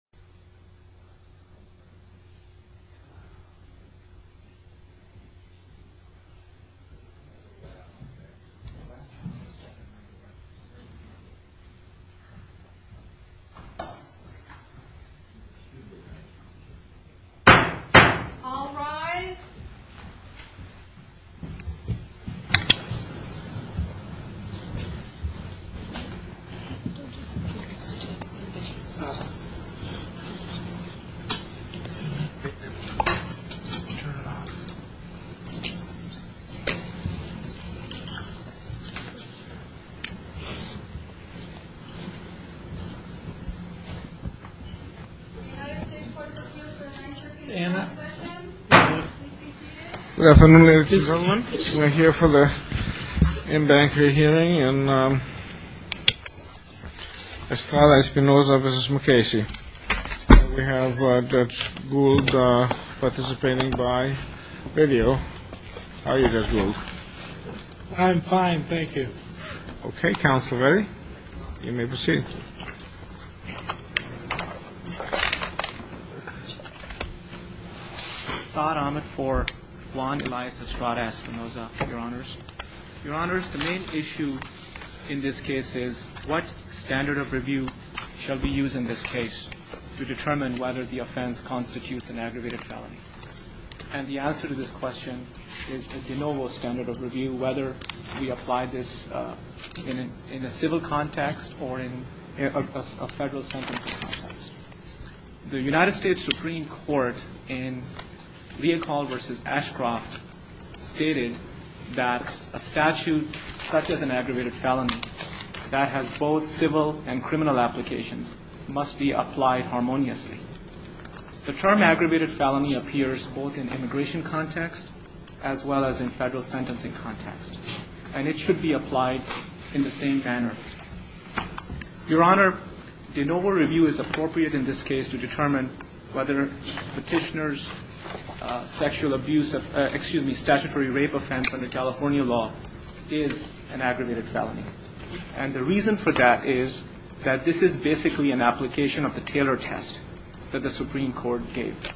1. Spreading Equality Good afternoon ladies and gentlemen. We are here for the InBank Rehearing and Estrada Espinoza v. McCasey. We have Judge Gould participating by video. How are you, Judge Gould? I'm fine, thank you. Okay, counsel, ready? You may proceed. Saad Ahmed for Juan Elias Estrada Espinoza, Your Honors. Your Honors, the main issue in this case is what standard of review shall we use in this case to determine whether the offense constitutes an aggravated felony? And the answer to this question is a de novo standard of review, whether we apply this in a civil context or in a federal sentencing context. The United States Supreme Court in Leopold v. Ashcroft stated that a statute such as an aggravated felony that has both civil and criminal applications must be applied harmoniously. The term aggravated felony appears both in immigration context as well as in federal sentencing context, and it should be applied in the same manner. Your Honor, de novo review is appropriate in this case to determine whether Petitioner's sexual abuse of, excuse me, statutory rape offense under California law is an aggravated felony. And the reason for that is that this is basically an application of the Taylor test that the Supreme Court gave.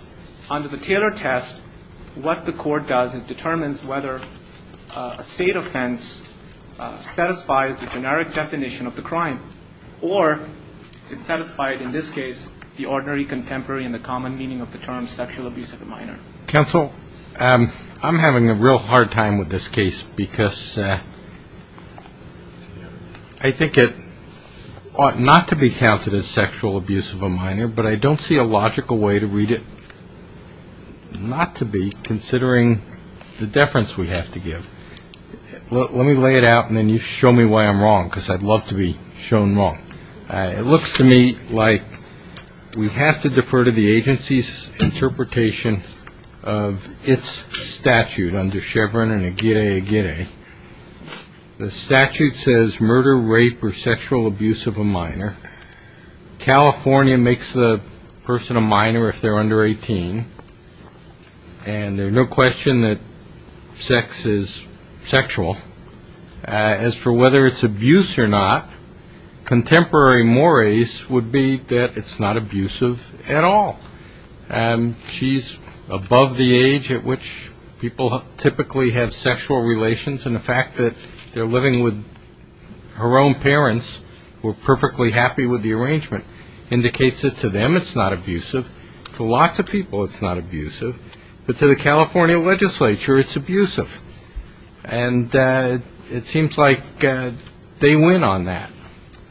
Under the Taylor test, what the court does, it determines whether a state offense satisfies the generic definition of the crime, or it's satisfied in this case the ordinary contemporary and the common meaning of the term sexual abuse of a minor. Counsel, I'm having a real hard time with this case because I think it ought not to be counted as sexual abuse of a minor, but I don't see a logical way to read it not to be considering the deference we have to give. Let me lay it out, and then you show me why I'm wrong, because I'd love to be shown wrong. It looks to me like we have to defer to the agency's interpretation of its statute under Chevron and a giddy giddy. The statute says murder, rape, or sexual abuse of a minor. California makes the person a minor if they're under 18, and there's no question that sex is sexual. As for whether it's abuse or not, contemporary mores would be that it's not abusive at all. She's above the age at which people typically have sexual relations, and the fact that they're living with her own parents who are perfectly happy with the arrangement indicates that to them it's not abusive. To lots of people it's not abusive, but to the California legislature it's abusive. And it seems like they win on that.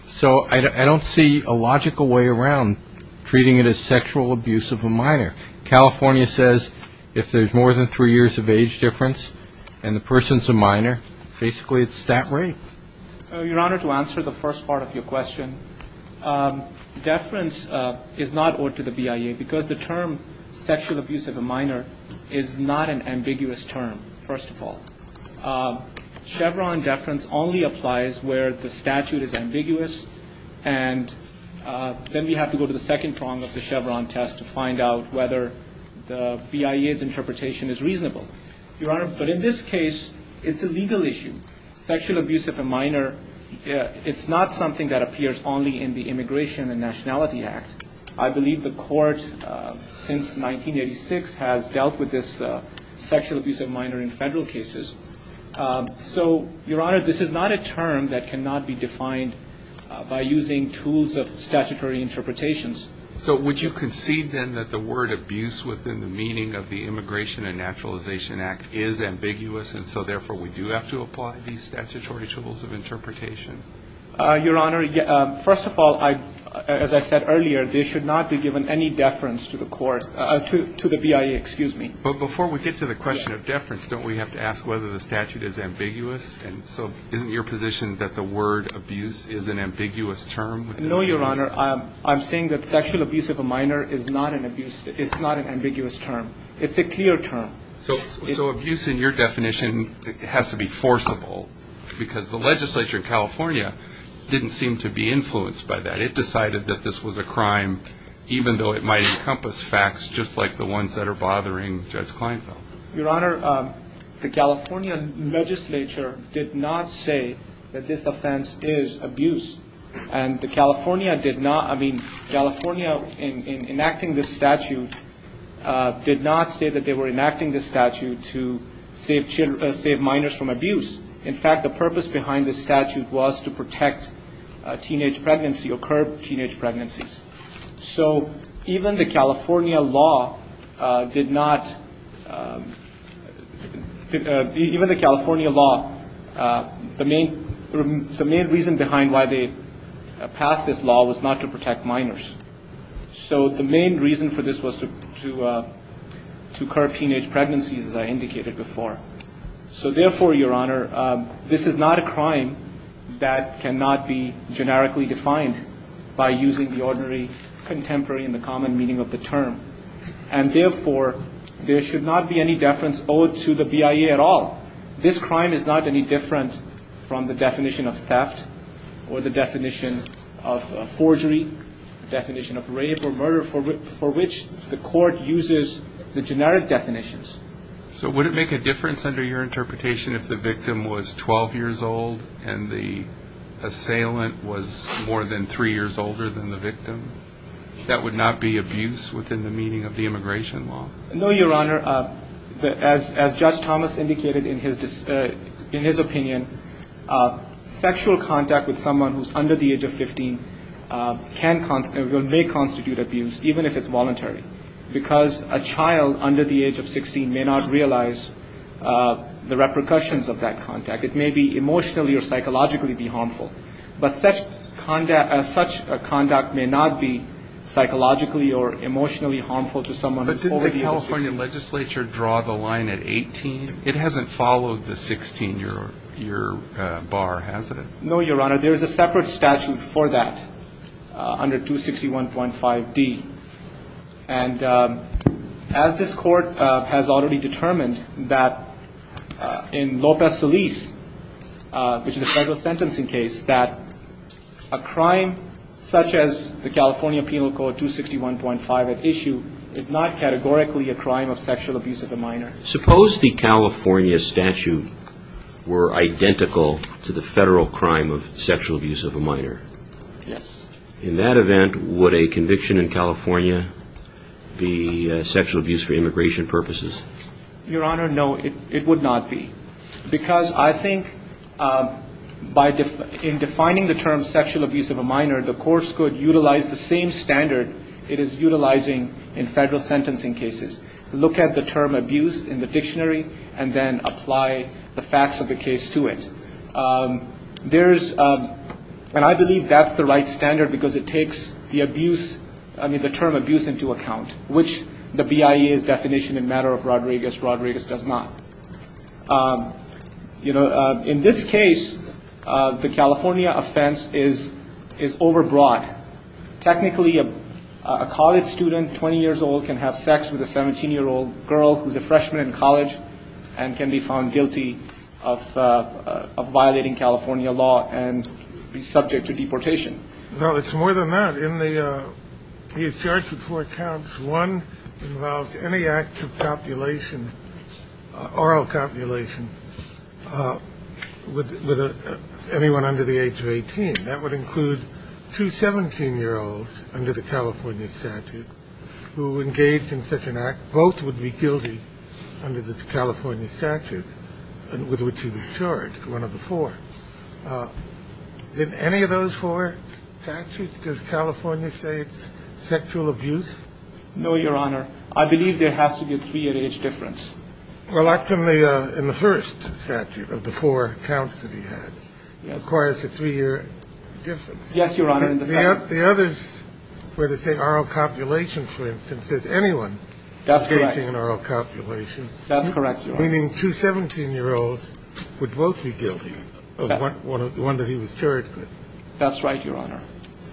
So I don't see a logical way around treating it as sexual abuse of a minor. California says if there's more than three years of age difference and the person's a minor, basically it's that rape. Your Honor, to answer the first part of your question, deference is not owed to the BIA because the term sexual abuse of a minor is not an ambiguous term, first of all. Chevron deference only applies where the statute is ambiguous, and then we have to go to the second prong of the Chevron test to find out whether the BIA's interpretation is reasonable. Your Honor, but in this case it's a legal issue. Sexual abuse of a minor, it's not something that appears only in the Immigration and Nationality Act. I believe the court since 1986 has dealt with this sexual abuse of a minor in federal cases. So, Your Honor, this is not a term that cannot be defined by using tools of statutory interpretations. So would you concede then that the word abuse within the meaning of the Immigration and Naturalization Act is ambiguous, and so therefore we do have to apply these statutory tools of interpretation? Your Honor, first of all, as I said earlier, they should not be given any deference to the BIA. But before we get to the question of deference, don't we have to ask whether the statute is ambiguous, and so isn't your position that the word abuse is an ambiguous term? No, Your Honor, I'm saying that sexual abuse of a minor is not an ambiguous term. It's a clear term. So abuse in your definition has to be forcible because the legislature in California didn't seem to be influenced by that. It decided that this was a crime, even though it might encompass facts just like the ones that are bothering Judge Kleinfeld. Your Honor, the California legislature did not say that this offense is abuse, and California in enacting this statute did not say that they were enacting this statute to save minors from abuse. In fact, the purpose behind this statute was to protect teenage pregnancy or curb teenage pregnancies. So even the California law did not, even the California law, the main reason behind why they passed this law was not to protect minors. So the main reason for this was to curb teenage pregnancies, as I indicated before. So therefore, Your Honor, this is not a crime that cannot be generically defined by using the ordinary contemporary and the common meaning of the term. And therefore, there should not be any deference owed to the BIA at all. This crime is not any different from the definition of theft or the definition of forgery, the definition of rape or murder, for which the court uses the generic definitions. So would it make a difference under your interpretation if the victim was 12 years old and the assailant was more than three years older than the victim? That would not be abuse within the meaning of the immigration law? No, Your Honor. As Judge Thomas indicated in his opinion, sexual contact with someone who is under the age of 15 may constitute abuse, even if it's voluntary, because a child under the age of 16 may not realize the repercussions of that contact. It may be emotionally or psychologically harmful. But such conduct may not be psychologically or emotionally harmful to someone over the age of 16. But didn't the California legislature draw the line at 18? It hasn't followed the 16-year bar, has it? No, Your Honor. Your Honor, there is a separate statute for that under 261.5d. And as this court has already determined that in Lopez-Feliz, which is a federal sentencing case, that a crime such as the California Penal Code 261.5 at issue is not categorically a crime of sexual abuse of a minor. Suppose the California statute were identical to the federal crime of sexual abuse of a minor. Yes. In that event, would a conviction in California be sexual abuse for immigration purposes? Your Honor, no, it would not be, because I think in defining the term sexual abuse of a minor, the course could utilize the same standard it is utilizing in federal sentencing cases. Look at the term abuse in the dictionary and then apply the facts of the case to it. There is, and I believe that's the right standard because it takes the abuse, I mean, the term abuse into account, which the BIA's definition in matter of Rodriguez, Rodriguez does not. You know, in this case, the California offense is overbroad. Technically, a college student, 20 years old, can have sex with a 17-year-old girl who's a freshman in college and can be found guilty of violating California law and be subject to deportation. No, it's more than that. He is charged with four counts. One involves any act of copulation, oral copulation with anyone under the age of 18. That would include two 17-year-olds under the California statute who engaged in such an act. Both would be guilty under the California statute with which he was charged, one of the four. In any of those four statutes, does California say it's sexual abuse? No, Your Honor. I believe there has to be a three-year age difference. Well, that's in the first statute of the four counts that he has. Yes. Requires a three-year difference. Yes, Your Honor, in the second. The others where they say oral copulation, for instance, says anyone engaging in oral copulation. That's correct, Your Honor. Meaning two 17-year-olds would both be guilty of one that he was charged with. That's right, Your Honor.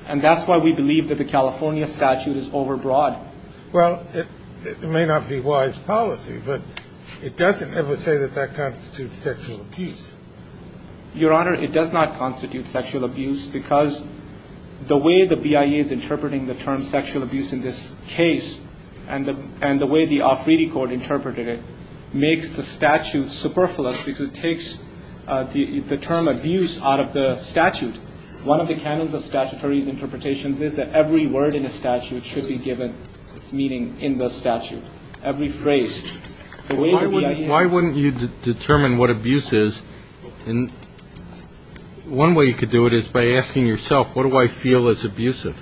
And that's why we believe that the California statute is overbroad. Well, it may not be wise policy, but it doesn't ever say that that constitutes sexual abuse. Your Honor, it does not constitute sexual abuse because the way the BIA is interpreting the term sexual abuse in this case and the way the Offredi Court interpreted it makes the statute superfluous because it takes the term abuse out of the statute. One of the canons of statutory's interpretations is that every word in a statute should be given its meaning in the statute. Every phrase. Why wouldn't you determine what abuse is? One way you could do it is by asking yourself, what do I feel is abusive?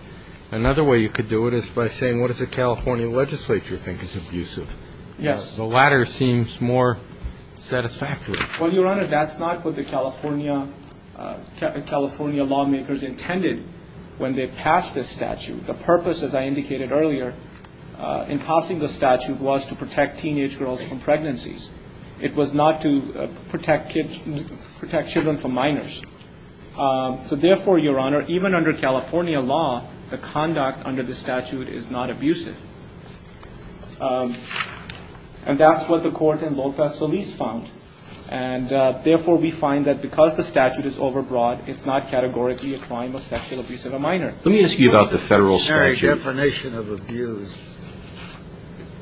Another way you could do it is by saying, what does the California legislature think is abusive? Yes. The latter seems more satisfactory. Well, Your Honor, that's not what the California lawmakers intended when they passed this statute. The purpose, as I indicated earlier, in passing the statute was to protect teenage girls from pregnancies. It was not to protect children from minors. So therefore, Your Honor, even under California law, the conduct under the statute is not abusive. And that's what the Court in Lopez-Solis found. And therefore, we find that because the statute is overbroad, it's not categorically a crime of sexual abuse of a minor. Let me ask you about the Federal statute. What's the definition of abuse?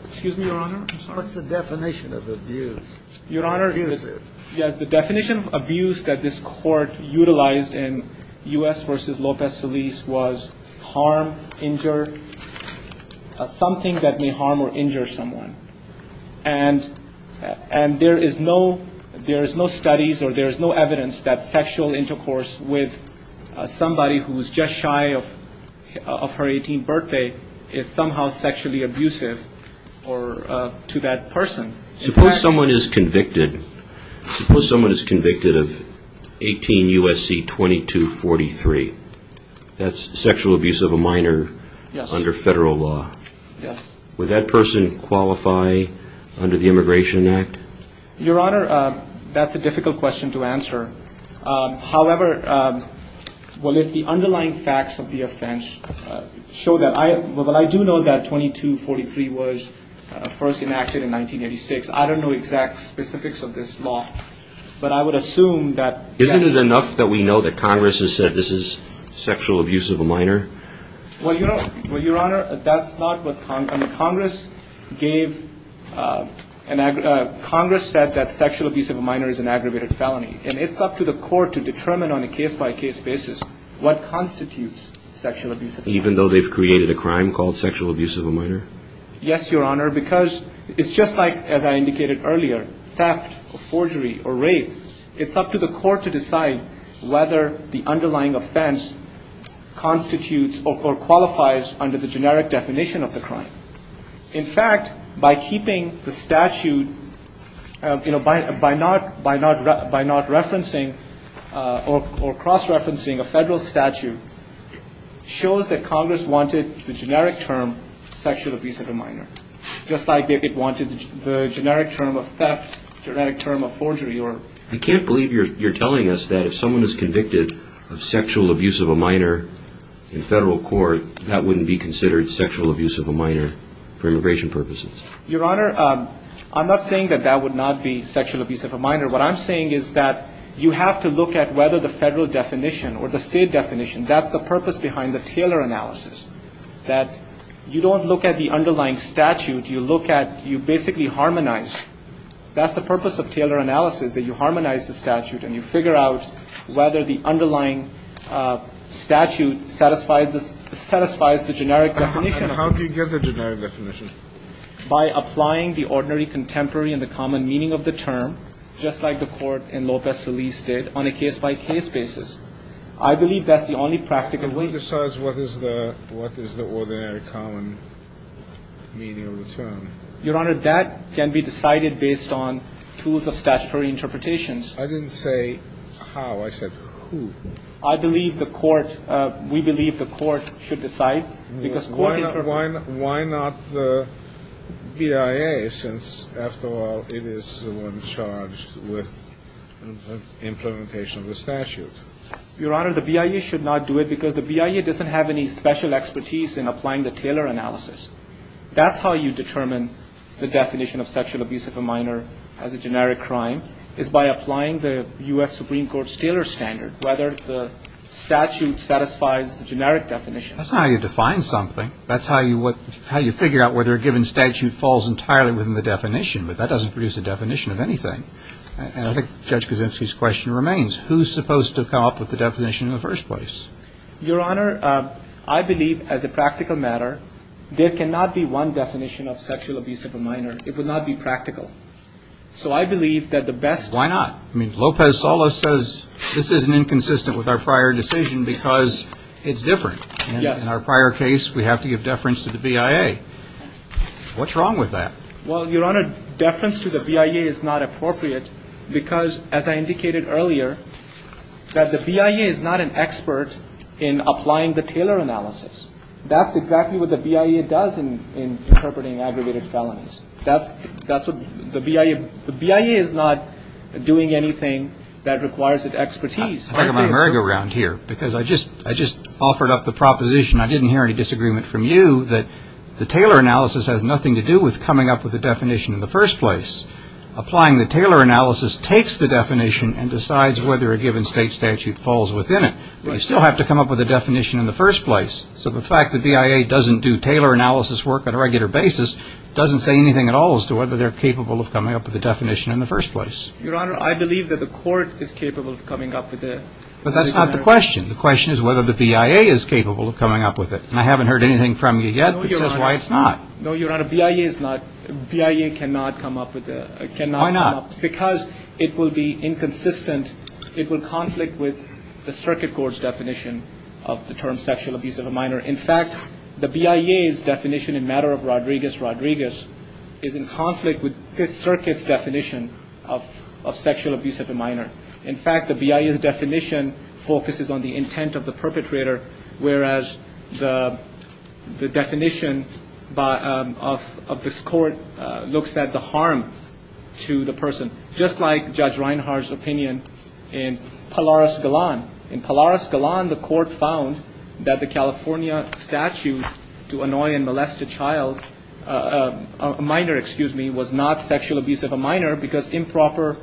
Excuse me, Your Honor? I'm sorry. What's the definition of abuse? Your Honor, the definition of abuse that this Court utilized in U.S. v. Lopez-Solis was harm, injure, assault. Something that may harm or injure someone. And there is no studies or there is no evidence that sexual intercourse with somebody who is just shy of her 18th birthday is somehow sexually abusive to that person. Suppose someone is convicted. Suppose someone is convicted of 18 U.S.C. 2243. That's sexual abuse of a minor under Federal law. Would that person qualify under the Immigration Act? Your Honor, that's a difficult question to answer. However, the underlying facts of the offense show that I do know that 2243 was first enacted in 1986. I don't know exact specifics of this law. But I would assume that yes. Isn't it enough that we know that Congress has said this is sexual abuse of a minor? Well, Your Honor, that's not what Congress gave. Congress said that sexual abuse of a minor is an aggravated felony. And it's up to the Court to determine on a case-by-case basis what constitutes sexual abuse of a minor. Even though they've created a crime called sexual abuse of a minor? Yes, Your Honor, because it's just like, as I indicated earlier, theft or forgery or rape. It's up to the Court to decide whether the underlying offense constitutes or qualifies under the generic definition of the crime. In fact, by keeping the statute, you know, by not referencing or cross-referencing a Federal statute, shows that Congress wanted the generic term sexual abuse of a minor, just like it wanted the generic term of theft, generic term of forgery or rape. I can't believe you're telling us that if someone is convicted of sexual abuse of a minor in Federal court, that wouldn't be considered sexual abuse of a minor for immigration purposes. Your Honor, I'm not saying that that would not be sexual abuse of a minor. What I'm saying is that you have to look at whether the Federal definition or the State definition, that's the purpose behind the Taylor analysis, that you don't look at the underlying statute. You look at, you basically harmonize, that's the purpose of Taylor analysis, that you harmonize the statute and you figure out whether the underlying statute satisfies the generic definition. And how do you get the generic definition? By applying the ordinary, contemporary and the common meaning of the term, just like the Court in Lopez-Solis did, on a case-by-case basis. I believe that's the only practical way. How do you decide what is the ordinary, common meaning of the term? Your Honor, that can be decided based on tools of statutory interpretations. I didn't say how. I said who. I believe the Court, we believe the Court should decide. Why not the BIA since, after all, it is the one charged with implementation of the statute? Your Honor, the BIA should not do it because the BIA doesn't have any special expertise in applying the Taylor analysis. That's how you determine the definition of sexual abuse of a minor as a generic crime, is by applying the U.S. Supreme Court's Taylor standard, whether the statute satisfies the generic definition. That's not how you define something. That's how you figure out whether a given statute falls entirely within the definition, but that doesn't produce a definition of anything. And I think Judge Kuczynski's question remains. Who's supposed to come up with the definition in the first place? Your Honor, I believe, as a practical matter, there cannot be one definition of sexual abuse of a minor. It would not be practical. So I believe that the best. Why not? I mean, Lopez-Salas says this is inconsistent with our prior decision because it's different. Yes. In our prior case, we have to give deference to the BIA. What's wrong with that? Well, Your Honor, deference to the BIA is not appropriate because, as I indicated earlier, that the BIA is not an expert in applying the Taylor analysis. That's exactly what the BIA does in interpreting aggregated felonies. That's what the BIA – the BIA is not doing anything that requires an expertise. I'm talking about a merry-go-round here because I just offered up the proposition, I didn't hear any disagreement from you, that the Taylor analysis has nothing to do with coming up with a definition in the first place. Applying the Taylor analysis takes the definition and decides whether a given state statute falls within it. But you still have to come up with a definition in the first place. So the fact that BIA doesn't do Taylor analysis work on a regular basis doesn't say anything at all as to whether they're capable of coming up with a definition in the first place. Your Honor, I believe that the court is capable of coming up with it. But that's not the question. The question is whether the BIA is capable of coming up with it. And I haven't heard anything from you yet that says why it's not. No, Your Honor. BIA is not – BIA cannot come up with a – cannot come up. Why not? Because it will be inconsistent. It will conflict with the circuit court's definition of the term sexual abuse of a minor. In fact, the BIA's definition in matter of Rodriguez-Rodriguez is in conflict with this circuit's definition of sexual abuse of a minor. In fact, the BIA's definition focuses on the intent of the perpetrator, whereas the definition of this court looks at the harm to the person. Just like Judge Reinhardt's opinion in Polaris Galan. In Polaris Galan, the court found that the California statute to annoy and molest a child – a minor, excuse me, was not sexual abuse of a minor because improper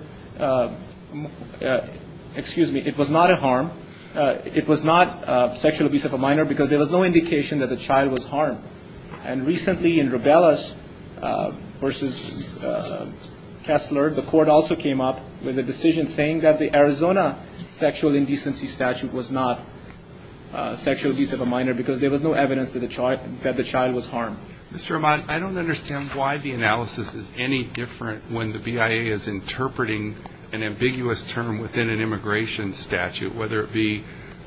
– excuse me, it was not a harm. It was not sexual abuse of a minor because there was no indication that the child was harmed. And recently in Rabelas v. Kessler, the court also came up with a decision saying that the Arizona sexual indecency statute was not sexual abuse of a minor because there was no evidence that the child was harmed. Mr. Rahmat, I don't understand why the analysis is any different when the BIA is interpreting an ambiguous term within an immigration statute, whether it be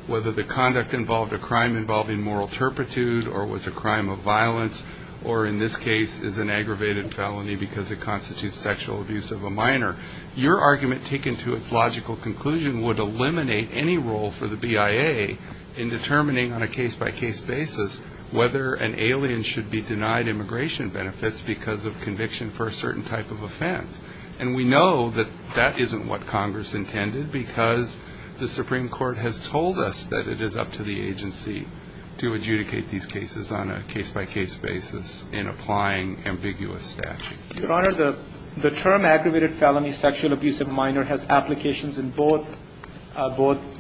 whether the conduct involved a crime involving moral turpitude or was a crime of violence or in this case is an aggravated felony because it constitutes sexual abuse of a minor. Your argument taken to its logical conclusion would eliminate any role for the BIA in determining on a case-by-case basis whether an alien should be denied immigration benefits because of conviction for a certain type of offense. And we know that that isn't what Congress intended because the Supreme Court has told us that it is up to the agency to adjudicate these cases on a case-by-case basis in applying ambiguous statute. Your Honor, the term aggravated felony sexual abuse of a minor has applications in both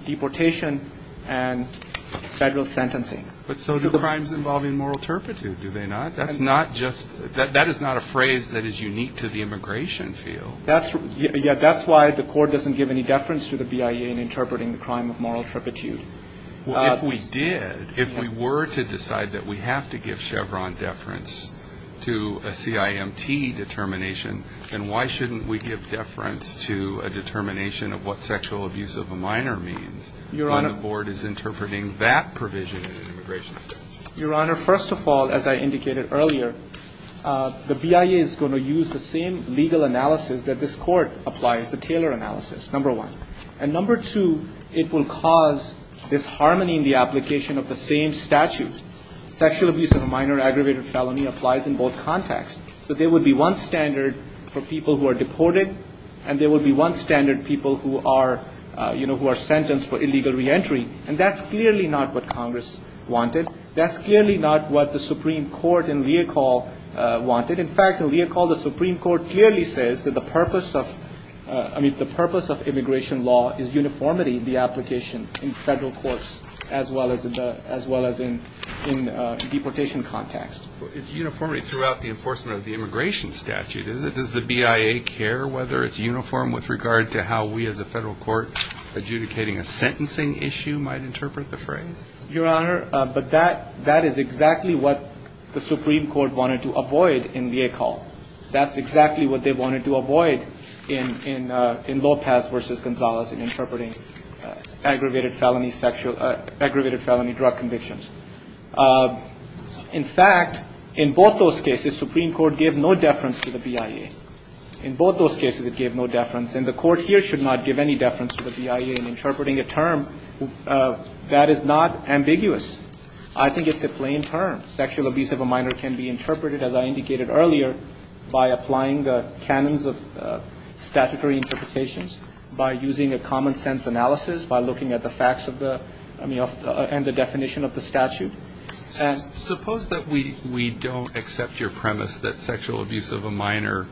deportation and federal sentencing. But so do crimes involving moral turpitude, do they not? That's not just – that is not a phrase that is unique to the immigration field. Yeah, that's why the court doesn't give any deference to the BIA in interpreting the crime of moral turpitude. Well, if we did, if we were to decide that we have to give Chevron deference to a CIMT determination, then why shouldn't we give deference to a determination of what sexual abuse of a minor means when the board is interpreting that provision in an immigration statute? Your Honor, first of all, as I indicated earlier, the BIA is going to use the same legal analysis that this court applies, the Taylor analysis, number one. And number two, it will cause disharmony in the application of the same statute. Sexual abuse of a minor aggravated felony applies in both contexts. So there would be one standard for people who are deported and there would be one standard people who are, you know, who are sentenced for illegal reentry. And that's clearly not what Congress wanted. That's clearly not what the Supreme Court in Leocal wanted. In fact, in Leocal, the Supreme Court clearly says that the purpose of, I mean, the purpose of immigration law is uniformity in the application in federal courts as well as in deportation context. It's uniformity throughout the enforcement of the immigration statute. Does the BIA care whether it's uniform with regard to how we as a federal court adjudicating a sentencing issue might interpret the phrase? Your Honor, but that is exactly what the Supreme Court wanted to avoid in Leocal. That's exactly what they wanted to avoid in Lopez v. Gonzalez in interpreting aggravated felony drug convictions. In fact, in both those cases, Supreme Court gave no deference to the BIA. In both those cases, it gave no deference. And the Court here should not give any deference to the BIA in interpreting a term that is not ambiguous. I think it's a plain term. Sexual abuse of a minor can be interpreted, as I indicated earlier, by applying the canons of statutory interpretations, by using a common-sense analysis, by looking at the facts of the, I mean, and the definition of the statute. And so suppose that we don't accept your premise that sexual abuse of a minor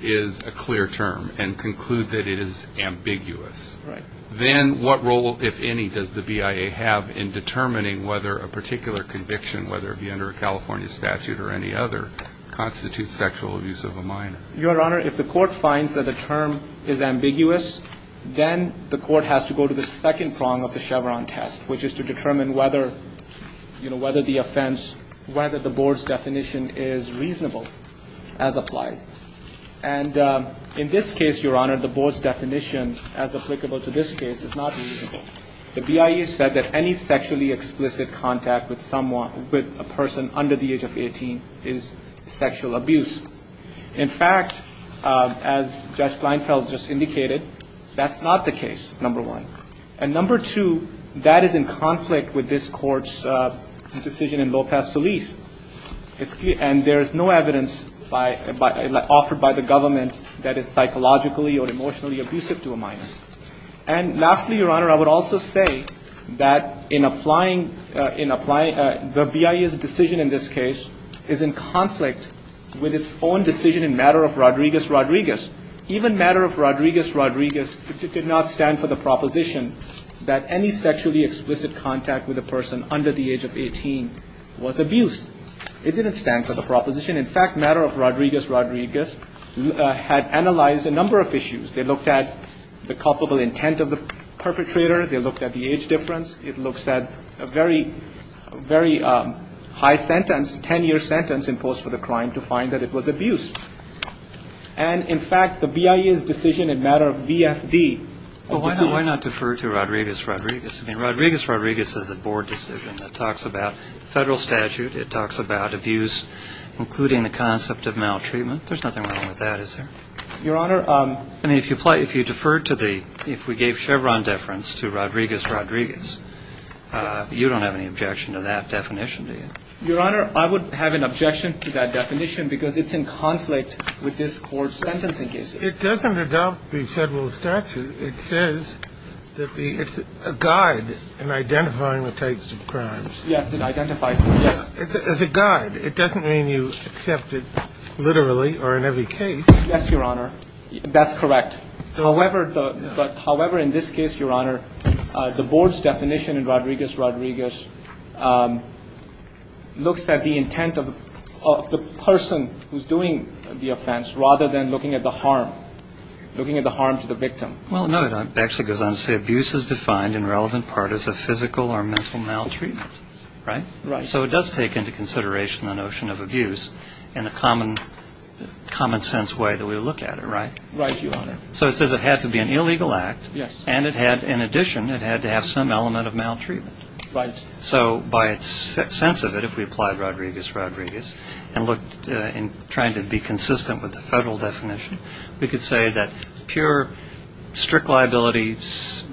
is a clear term and conclude that it is ambiguous. Right. Then what role, if any, does the BIA have in determining whether a particular conviction, whether it be under a California statute or any other, constitutes sexual abuse of a minor? Your Honor, if the Court finds that a term is ambiguous, then the Court has to go to the second prong of the Chevron test, which is to determine whether the offense, whether the board's definition is reasonable as applied. And in this case, Your Honor, the board's definition, as applicable to this case, is not reasonable. The BIA said that any sexually explicit contact with someone, with a person under the age of 18 is sexual abuse. In fact, as Judge Kleinfeld just indicated, that's not the case, number one. And number two, that is in conflict with this Court's decision in Lopez-Solis. And there is no evidence offered by the government that is psychologically or emotionally abusive to a minor. And lastly, Your Honor, I would also say that in applying the BIA's decision in this case is in conflict with its own decision in matter of Rodriguez-Rodriguez. Even matter of Rodriguez-Rodriguez did not stand for the proposition that any sexually explicit contact with a person under the age of 18 was abuse. It didn't stand for the proposition. In fact, matter of Rodriguez-Rodriguez had analyzed a number of issues. They looked at the culpable intent of the perpetrator. They looked at the age difference. It looks at a very, very high sentence, 10-year sentence imposed for the crime to find that it was abuse. And, in fact, the BIA's decision in matter of VFD. Well, why not defer to Rodriguez-Rodriguez? I mean, Rodriguez-Rodriguez is a board decision that talks about federal statute. It talks about abuse, including the concept of maltreatment. There's nothing wrong with that, is there? Your Honor. I mean, if you defer to the, if we gave Chevron deference to Rodriguez-Rodriguez, you don't have any objection to that definition, do you? Your Honor, I would have an objection to that definition because it's in conflict with this Court's sentencing cases. It doesn't adopt the federal statute. It says that the, it's a guide in identifying the types of crimes. Yes, it identifies them, yes. It's a guide. It doesn't mean you accept it literally or in every case. Yes, Your Honor. That's correct. However, in this case, Your Honor, the board's definition in Rodriguez-Rodriguez looks at the intent of the person who's doing the offense rather than looking at the harm, looking at the harm to the victim. Well, no, it actually goes on to say abuse is defined in relevant part as a physical or mental maltreatment, right? Right. So it does take into consideration the notion of abuse in a common, common sense way that we would look at it, right? Right, Your Honor. So it says it had to be an illegal act. Yes. And it had, in addition, it had to have some element of maltreatment. Right. So by its sense of it, if we applied Rodriguez-Rodriguez and looked in trying to be consistent with the federal definition, we could say that pure strict liability,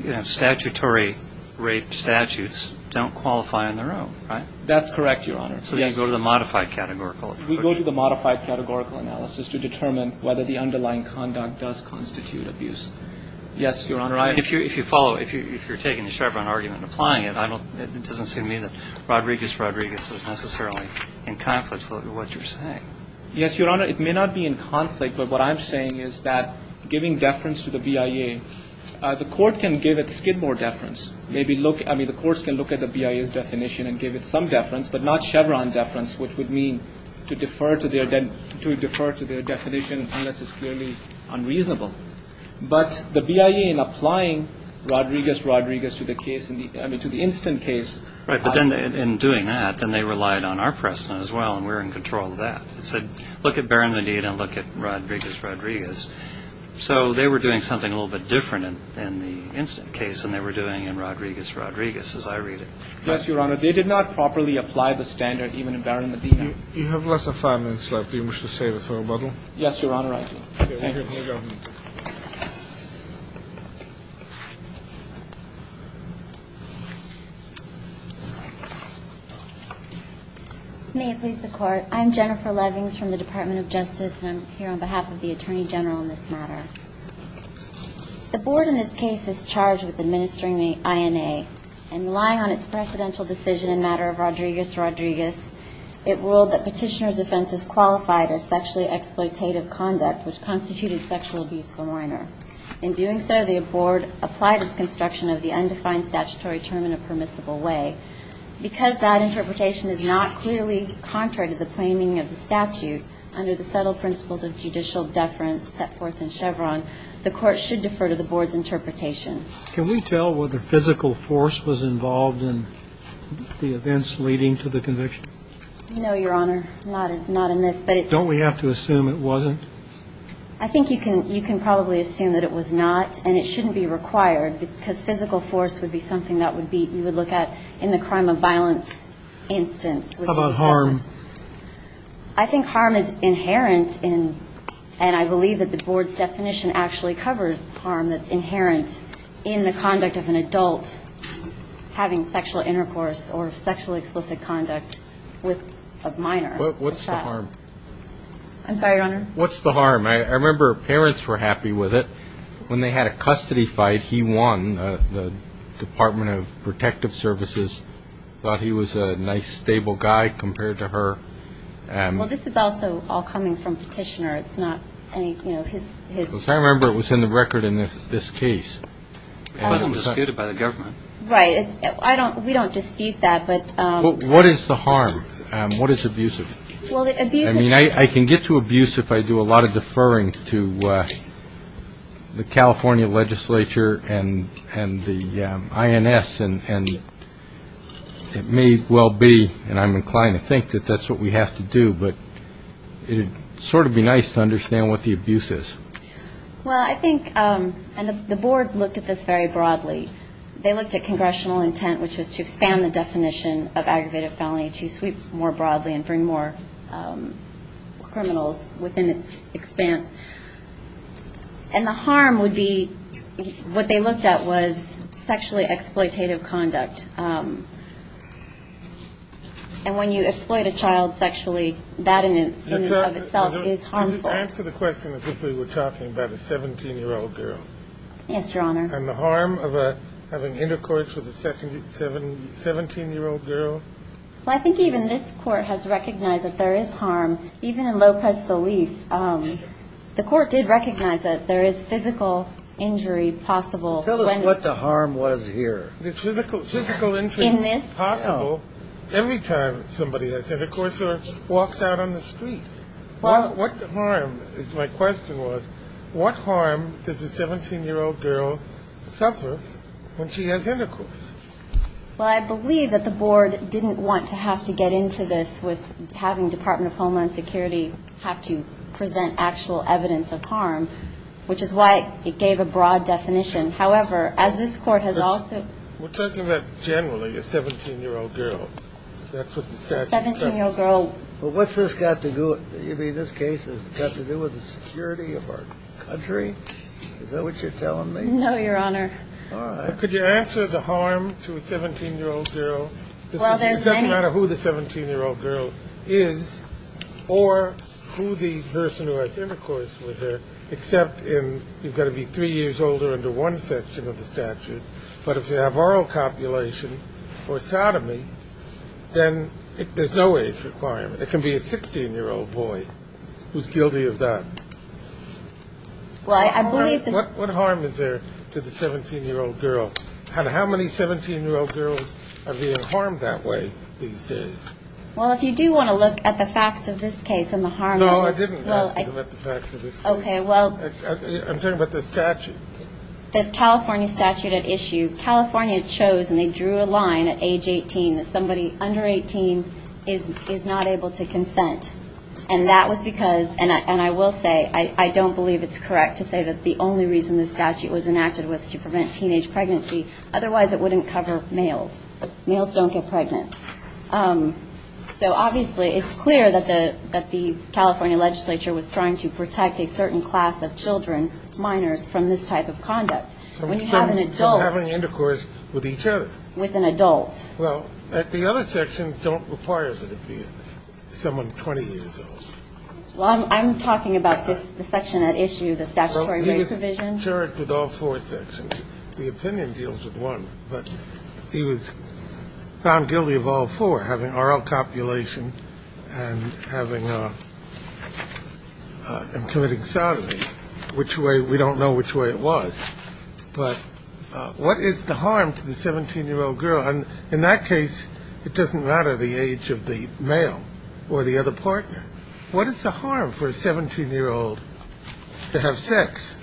you know, statutory rape statutes don't qualify on their own, right? That's correct, Your Honor. So you go to the modified categorical approach. We go to the modified categorical analysis to determine whether the underlying conduct does constitute abuse. Yes, Your Honor. If you follow, if you're taking the Chevron argument and applying it, it doesn't seem to me that Rodriguez-Rodriguez is necessarily in conflict with what you're saying. Yes, Your Honor. It may not be in conflict. But what I'm saying is that giving deference to the BIA, the court can give it Skidmore deference. Maybe look, I mean, the courts can look at the BIA's definition and give it some deference, but not Chevron deference, which would mean to defer to their definition unless it's clearly unreasonable. But the BIA in applying Rodriguez-Rodriguez to the case, I mean, to the instant case. Right. But then in doing that, then they relied on our precedent as well, and we're in control of that. It said look at Barron-Medina and look at Rodriguez-Rodriguez. So they were doing something a little bit different in the instant case than they were doing in Rodriguez-Rodriguez as I read it. Yes, Your Honor. They did not properly apply the standard even in Barron-Medina. You have less than five minutes left. Do you wish to say this, Roboto? Yes, Your Honor, I do. May it please the Court. I'm Jennifer Levings from the Department of Justice, and I'm here on behalf of the Attorney General in this matter. The Board in this case is charged with administering the INA, and relying on its precedential decision in the matter of Rodriguez-Rodriguez, it ruled that Petitioner's offense is qualified as sexually exploitative conduct, which constituted sexual abuse of a minor. In doing so, the Board applied its construction of the undefined statutory term in a permissible way. Because that interpretation is not clearly contrary to the plaining of the statute under the subtle principles of judicial deference set forth in Chevron, the Court should defer to the Board's interpretation. Can we tell whether physical force was involved in the events leading to the conviction? No, Your Honor. Not in this. Don't we have to assume it wasn't? I think you can probably assume that it was not, and it shouldn't be required, because physical force would be something that you would look at in the crime of violence instance. How about harm? I think harm is inherent in, and I believe that the Board's definition actually covers harm that's inherent in the conduct of an adult having sexual intercourse or sexually explicit conduct with a minor. What's the harm? I'm sorry, Your Honor? What's the harm? I remember parents were happy with it. When they had a custody fight, he won. The Department of Protective Services thought he was a nice, stable guy compared to her. Well, this is also all coming from Petitioner. It's not any, you know, his ---- Because I remember it was in the record in this case. But it was disputed by the government. Right. We don't dispute that, but ---- What is the harm? What is abusive? Well, the abusive ---- I mean, I can get to abuse if I do a lot of deferring to the California legislature and the INS, and it may well be, and I'm inclined to think that that's what we have to do, but it would sort of be nice to understand what the abuse is. Well, I think, and the Board looked at this very broadly. They looked at congressional intent, which was to expand the definition of criminals within its expanse. And the harm would be what they looked at was sexually exploitative conduct. And when you exploit a child sexually, that in and of itself is harmful. Answer the question as if we were talking about a 17-year-old girl. Yes, Your Honor. And the harm of having intercourse with a 17-year-old girl? Well, I think even this Court has recognized that there is harm. Even in Lopez-Delis, the Court did recognize that there is physical injury possible. Tell us what the harm was here. Physical injury is possible every time somebody has intercourse or walks out on the street. What harm, my question was, what harm does a 17-year-old girl suffer when she has intercourse? Well, I believe that the Board didn't want to have to get into this with having the Department of Homeland Security have to present actual evidence of harm, which is why it gave a broad definition. However, as this Court has also ---- We're talking about generally a 17-year-old girl. That's what the statute says. 17-year-old girl. But what's this got to do, I mean, this case has got to do with the security of our country? Is that what you're telling me? No, Your Honor. All right. Could you answer the harm to a 17-year-old girl? Well, there's many ---- It doesn't matter who the 17-year-old girl is or who the person who has intercourse with her, except in you've got to be three years older under one section of the statute. But if you have oral copulation or sodomy, then there's no age requirement. It can be a 16-year-old boy who's guilty of that. Well, I believe this ---- What harm is there to the 17-year-old girl? How many 17-year-old girls are being harmed that way these days? Well, if you do want to look at the facts of this case and the harm ---- No, I didn't ask you to look at the facts of this case. Okay, well ---- I'm talking about the statute. The California statute at issue, California chose and they drew a line at age 18 that somebody under 18 is not able to consent. And that was because, and I will say, I don't believe it's correct to say that the only reason this statute was enacted was to prevent teenage pregnancy. Otherwise, it wouldn't cover males. Males don't get pregnant. So, obviously, it's clear that the California legislature was trying to protect a certain class of children, minors, from this type of conduct. When you have an adult ---- From having intercourse with each other. With an adult. Well, the other sections don't require that it be someone 20 years old. Well, I'm talking about the section at issue, the statutory provision. Well, he was charged with all four sections. The opinion deals with one. But he was found guilty of all four, having oral copulation and having a ---- and committing sodomy. Which way, we don't know which way it was. But what is the harm to the 17-year-old girl? In that case, it doesn't matter the age of the male or the other partner. What is the harm for a 17-year-old to have sex?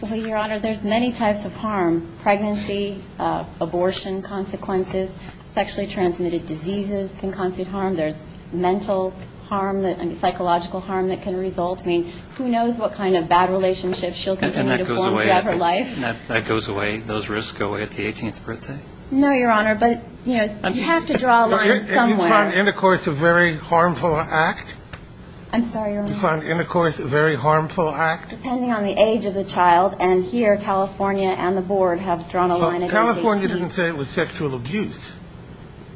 Well, Your Honor, there's many types of harm. Pregnancy, abortion consequences, sexually transmitted diseases can constitute harm. There's mental harm, psychological harm that can result. I mean, who knows what kind of bad relationships she'll continue to form throughout her life. And that goes away, those risks go away at the 18th birthday? No, Your Honor. But, you know, you have to draw a line somewhere. And you find intercourse a very harmful act? I'm sorry, Your Honor. You find intercourse a very harmful act? Depending on the age of the child. And here California and the board have drawn a line at 18. California didn't say it was sexual abuse.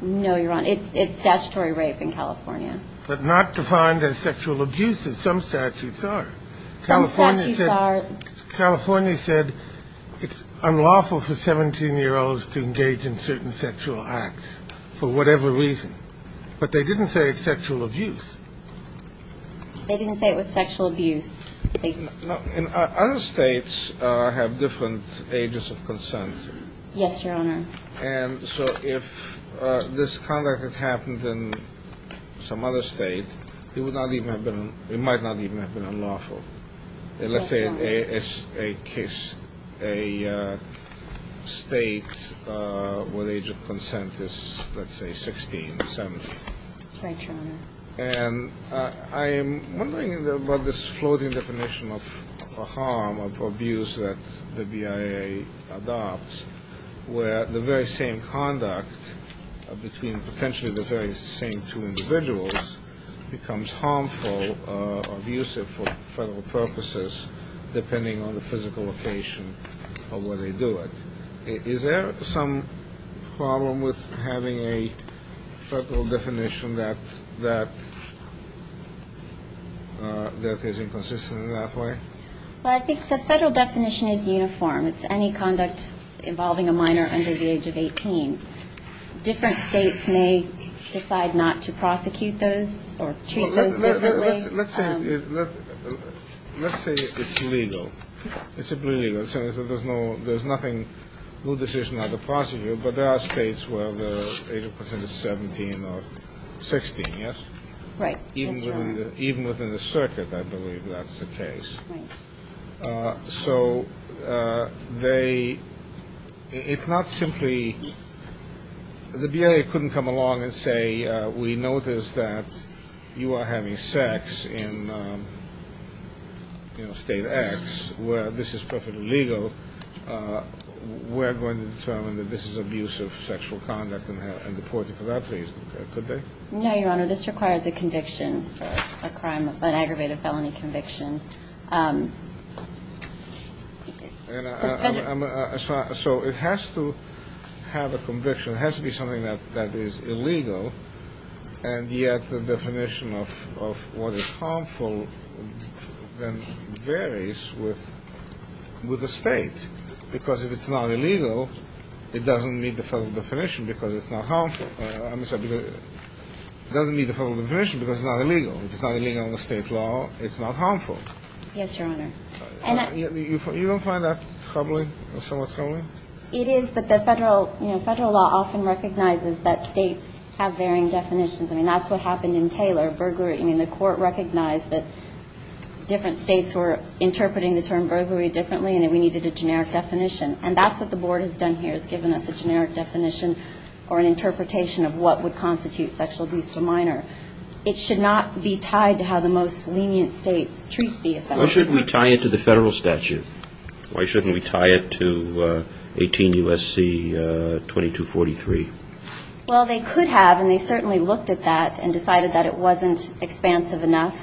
No, Your Honor. It's statutory rape in California. But not defined as sexual abuse as some statutes are. Some statutes are. California said it's unlawful for 17-year-olds to engage in certain sexual acts for whatever reason. But they didn't say it's sexual abuse. They didn't say it was sexual abuse. Other states have different ages of consent. Yes, Your Honor. And so if this conduct had happened in some other state, it might not even have been unlawful. Yes, Your Honor. Let's say it's a case, a state where the age of consent is, let's say, 16, 17. Right, Your Honor. And I am wondering about this floating definition of harm or abuse that the BIA adopts, where the very same conduct between potentially the very same two individuals becomes harmful or abusive for federal purposes depending on the physical location of where they do it. Is there some problem with having a federal definition that is inconsistent in that way? Well, I think the federal definition is uniform. It's any conduct involving a minor under the age of 18. Different states may decide not to prosecute those or treat those differently. Let's say it's legal. It's simply legal. So there's no decision on the prosecutor, but there are states where the age of consent is 17 or 16, yes? Right. Even within the circuit, I believe that's the case. Right. So it's not simply the BIA couldn't come along and say, we noticed that you are having sex in state X where this is perfectly legal. We're going to determine that this is abusive sexual conduct and deport you for that reason, could they? No, Your Honor. This requires a conviction, an aggravated felony conviction. So it has to have a conviction. It has to be something that is illegal. And yet the definition of what is harmful then varies with the state. Because if it's not illegal, it doesn't meet the federal definition because it's not harmful. It doesn't meet the federal definition because it's not illegal. If it's not illegal under state law, it's not harmful. Yes, Your Honor. You don't find that troubling or somewhat troubling? It is, but the federal law often recognizes that states have varying definitions. I mean, that's what happened in Taylor, burglary. I mean, the court recognized that different states were interpreting the term burglary differently and that we needed a generic definition. And that's what the board has done here, has given us a generic definition or an interpretation of what would constitute sexual abuse of a minor. It should not be tied to how the most lenient states treat the offender. Why shouldn't we tie it to the federal statute? Why shouldn't we tie it to 18 U.S.C. 2243? Well, they could have, and they certainly looked at that and decided that it wasn't expansive enough.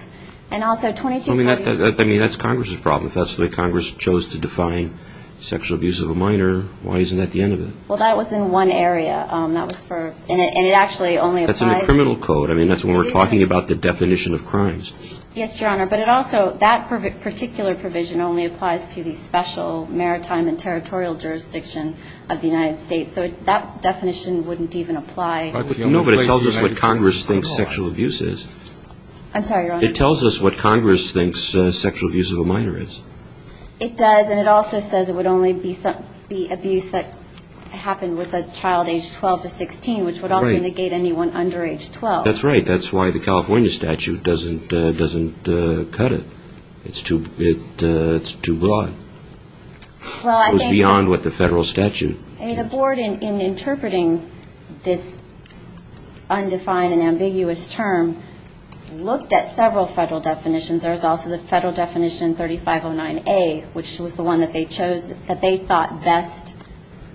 And also 2243... I mean, that's Congress' problem. If that's the way Congress chose to define sexual abuse of a minor, why isn't that the end of it? Well, that was in one area. That was for... That's in the criminal code. I mean, that's when we're talking about the definition of crimes. Yes, Your Honor. But it also, that particular provision only applies to the special maritime and territorial jurisdiction of the United States. So that definition wouldn't even apply. No, but it tells us what Congress thinks sexual abuse is. I'm sorry, Your Honor. It tells us what Congress thinks sexual abuse of a minor is. It does, and it also says it would only be abuse that happened with a child aged 12 to 16, which would also negate anyone under age 12. That's right. That's why the California statute doesn't cut it. It's too broad. It goes beyond what the federal statute can do. The board, in interpreting this undefined and ambiguous term, looked at several federal definitions. There's also the federal definition 3509A, which was the one that they chose that they thought best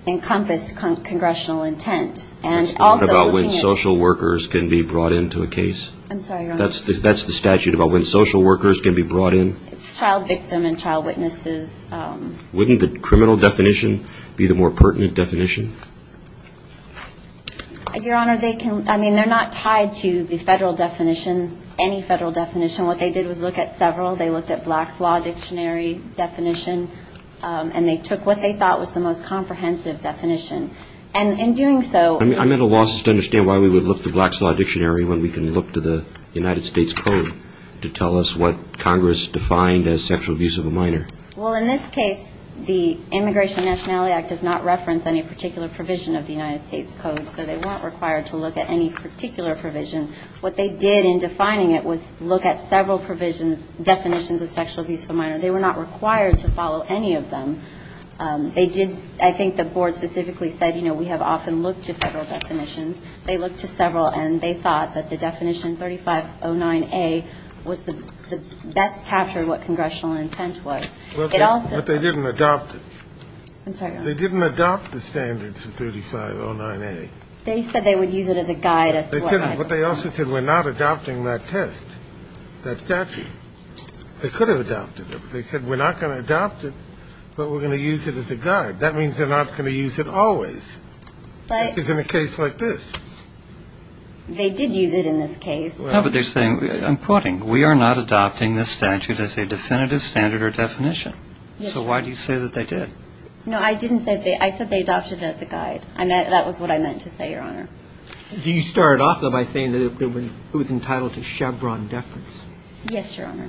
encompassed congressional intent. And also looking at... That's not about when social workers can be brought into a case. I'm sorry, Your Honor. That's the statute about when social workers can be brought in. It's child victim and child witnesses. Wouldn't the criminal definition be the more pertinent definition? Your Honor, they can, I mean, they're not tied to the federal definition, any federal definition. What they did was look at several. They looked at Black's Law Dictionary definition, and they took what they thought was the most comprehensive definition. And in doing so... I'm at a loss to understand why we would look to Black's Law Dictionary when we can look to the United States Code to tell us what Congress defined as sexual abuse of a minor. Well, in this case, the Immigration Nationality Act does not reference any particular provision of the United States Code, so they weren't required to look at any particular provision. What they did in defining it was look at several provisions, definitions of sexual abuse of a minor. They were not required to follow any of them. They did, I think the board specifically said, you know, we have often looked to federal definitions. They looked to several, and they thought that the definition 3509A was the best capture of what congressional intent was. It also... But they didn't adopt it. I'm sorry, Your Honor. They didn't adopt the standard for 3509A. They said they would use it as a guide. But they also said we're not adopting that test, that statute. They could have adopted it, but they said we're not going to adopt it, but we're going to use it as a guide. That means they're not going to use it always, which is in a case like this. They did use it in this case. No, but they're saying, I'm quoting, we are not adopting this statute as a definitive standard or definition. So why do you say that they did? No, I didn't say that. I said they adopted it as a guide. That was what I meant to say, Your Honor. You started off, though, by saying that it was entitled to Chevron deference. Yes, Your Honor.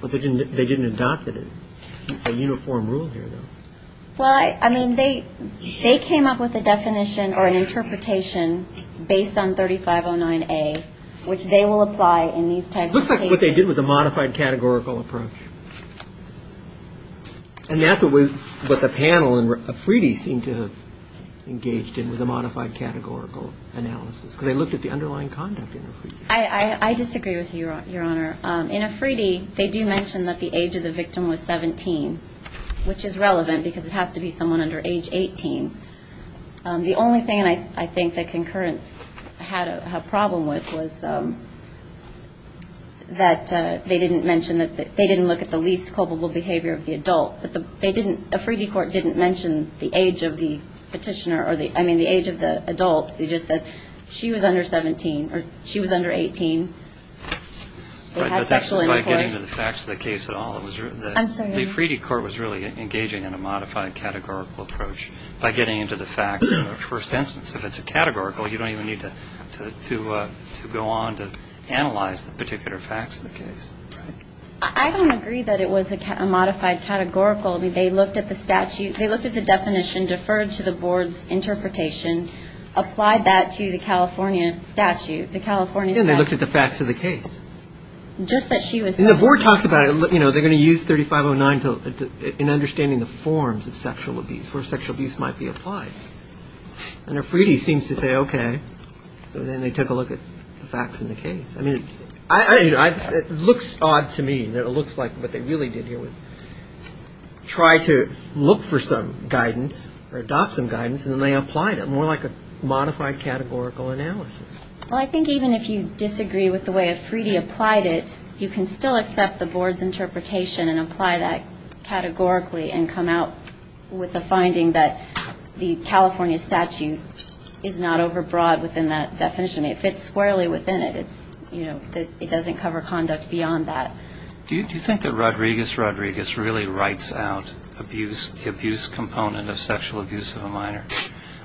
But they didn't adopt it, a uniform rule here, though. Well, I mean, they came up with a definition or an interpretation based on 3509A, which they will apply in these types of cases. It looks like what they did was a modified categorical approach. And that's what the panel in Afridi seemed to have engaged in, was a modified categorical analysis, because they looked at the underlying conduct in Afridi. I disagree with you, Your Honor. In Afridi, they do mention that the age of the victim was 17, which is relevant because it has to be someone under age 18. The only thing I think that concurrence had a problem with was that they didn't mention that they didn't look at the least culpable behavior of the adult. Afridi Court didn't mention the age of the adult. They just said she was under 17 or she was under 18. They had sexual intercourse. Right, but that's by getting to the facts of the case at all. I'm sorry? The Afridi Court was really engaging in a modified categorical approach by getting into the facts of the first instance. If it's a categorical, you don't even need to go on to analyze the particular facts of the case. I don't agree that it was a modified categorical. I mean, they looked at the statute. They looked at the definition, deferred to the Board's interpretation, applied that to the California statute. Then they looked at the facts of the case. Just that she was 17. And the Board talks about it. They're going to use 3509 in understanding the forms of sexual abuse, where sexual abuse might be applied. And Afridi seems to say, okay. So then they took a look at the facts in the case. I mean, it looks odd to me that it looks like what they really did here was try to look for some guidance or adopt some guidance, and then they applied it. More like a modified categorical analysis. Well, I think even if you disagree with the way Afridi applied it, you can still accept the Board's interpretation and apply that categorically and come out with a finding that the California statute is not overbroad within that definition. I mean, it fits squarely within it. It doesn't cover conduct beyond that. Do you think that Rodriguez-Rodriguez really writes out the abuse component of sexual abuse of a minor?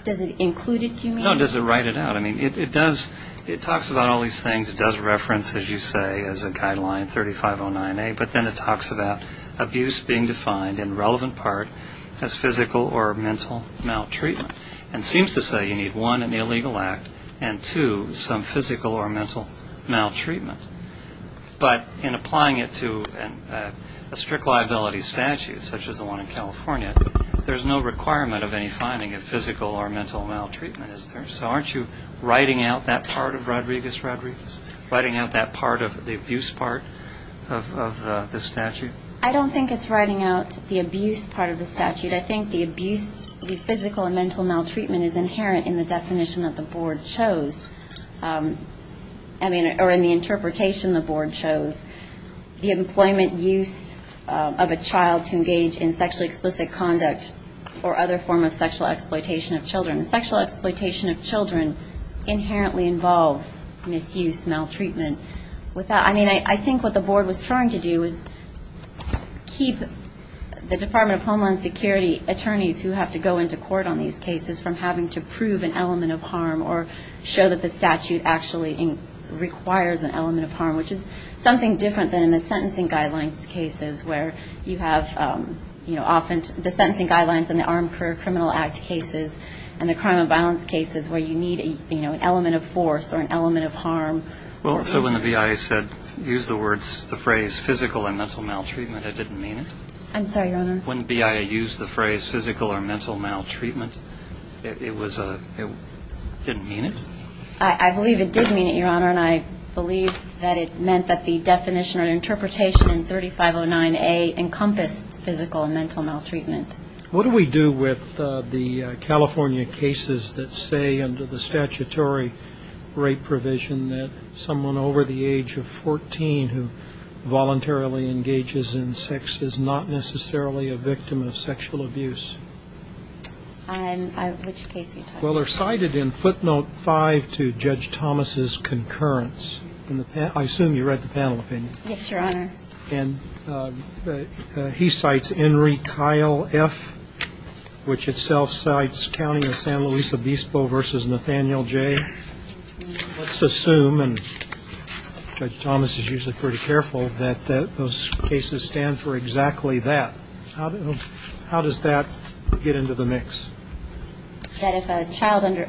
Does it include it, do you mean? No, does it write it out? I mean, it does. It talks about all these things. It does reference, as you say, as a guideline, 3509A. But then it talks about abuse being defined in relevant part as physical or mental maltreatment and seems to say you need, one, an illegal act, and, two, some physical or mental maltreatment. But in applying it to a strict liability statute such as the one in California, there's no requirement of any finding of physical or mental maltreatment, is there? So aren't you writing out that part of Rodriguez-Rodriguez, writing out that part of the abuse part of the statute? I don't think it's writing out the abuse part of the statute. I think the abuse, the physical and mental maltreatment is inherent in the definition that the board chose. I mean, or in the interpretation the board chose. The employment use of a child to engage in sexually explicit conduct or other form of sexual exploitation of children. Sexual exploitation of children inherently involves misuse, maltreatment. I mean, I think what the board was trying to do is keep the Department of Homeland Security attorneys who have to go into court on these cases from having to prove an element of harm or show that the statute actually requires an element of harm, which is something different than in the sentencing guidelines cases where you have, you know, often the sentencing guidelines in the Armed Career Criminal Act cases and the crime and violence cases where you need, you know, an element of force or an element of harm. Well, so when the BIA said, use the words, the phrase physical and mental maltreatment, it didn't mean it? I'm sorry, Your Honor. When the BIA used the phrase physical or mental maltreatment, it was a, it didn't mean it? I believe it did mean it, Your Honor, and I believe that it meant that the definition or interpretation in 3509A encompassed physical and mental maltreatment. What do we do with the California cases that say under the statutory rape provision that someone over the age of 14 who voluntarily engages in sex is not necessarily a victim of sexual abuse? Which case are you talking about? Well, they're cited in footnote 5 to Judge Thomas' concurrence. I assume you read the panel opinion. Yes, Your Honor. And he cites Enrique Kyle F., which itself cites County of San Luis Obispo v. Nathaniel J. Let's assume, and Judge Thomas is usually pretty careful, that those cases stand for exactly that. How does that get into the mix? That if a child under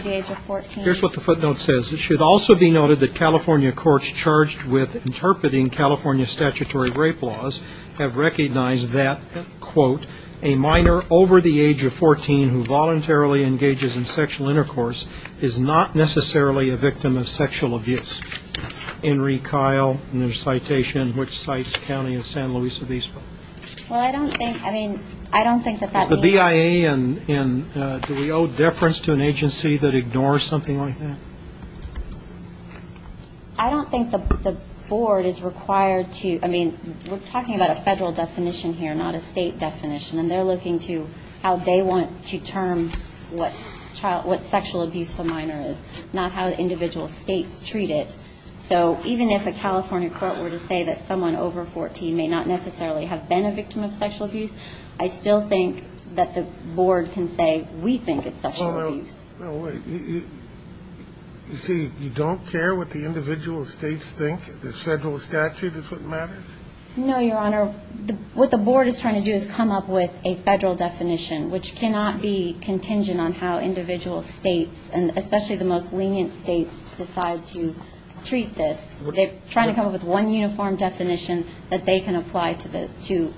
the age of 14. Here's what the footnote says. It should also be noted that California courts charged with interpreting California statutory rape laws have recognized that, quote, a minor over the age of 14 who voluntarily engages in sexual intercourse is not necessarily a victim of sexual abuse. Enrique Kyle, and there's a citation which cites County of San Luis Obispo. Well, I don't think, I mean, I don't think that that means. And do we owe deference to an agency that ignores something like that? I don't think the board is required to. I mean, we're talking about a Federal definition here, not a State definition. And they're looking to how they want to term what sexual abuse of a minor is, not how individual States treat it. So even if a California court were to say that someone over 14 may not necessarily have been a victim of sexual abuse, I still think that the board can say we think it's sexual abuse. No, wait. You see, you don't care what the individual States think? The Federal statute is what matters? No, Your Honor. What the board is trying to do is come up with a Federal definition, which cannot be contingent on how individual States, and especially the most lenient States, decide to treat this. They're trying to come up with one uniform definition that they can apply to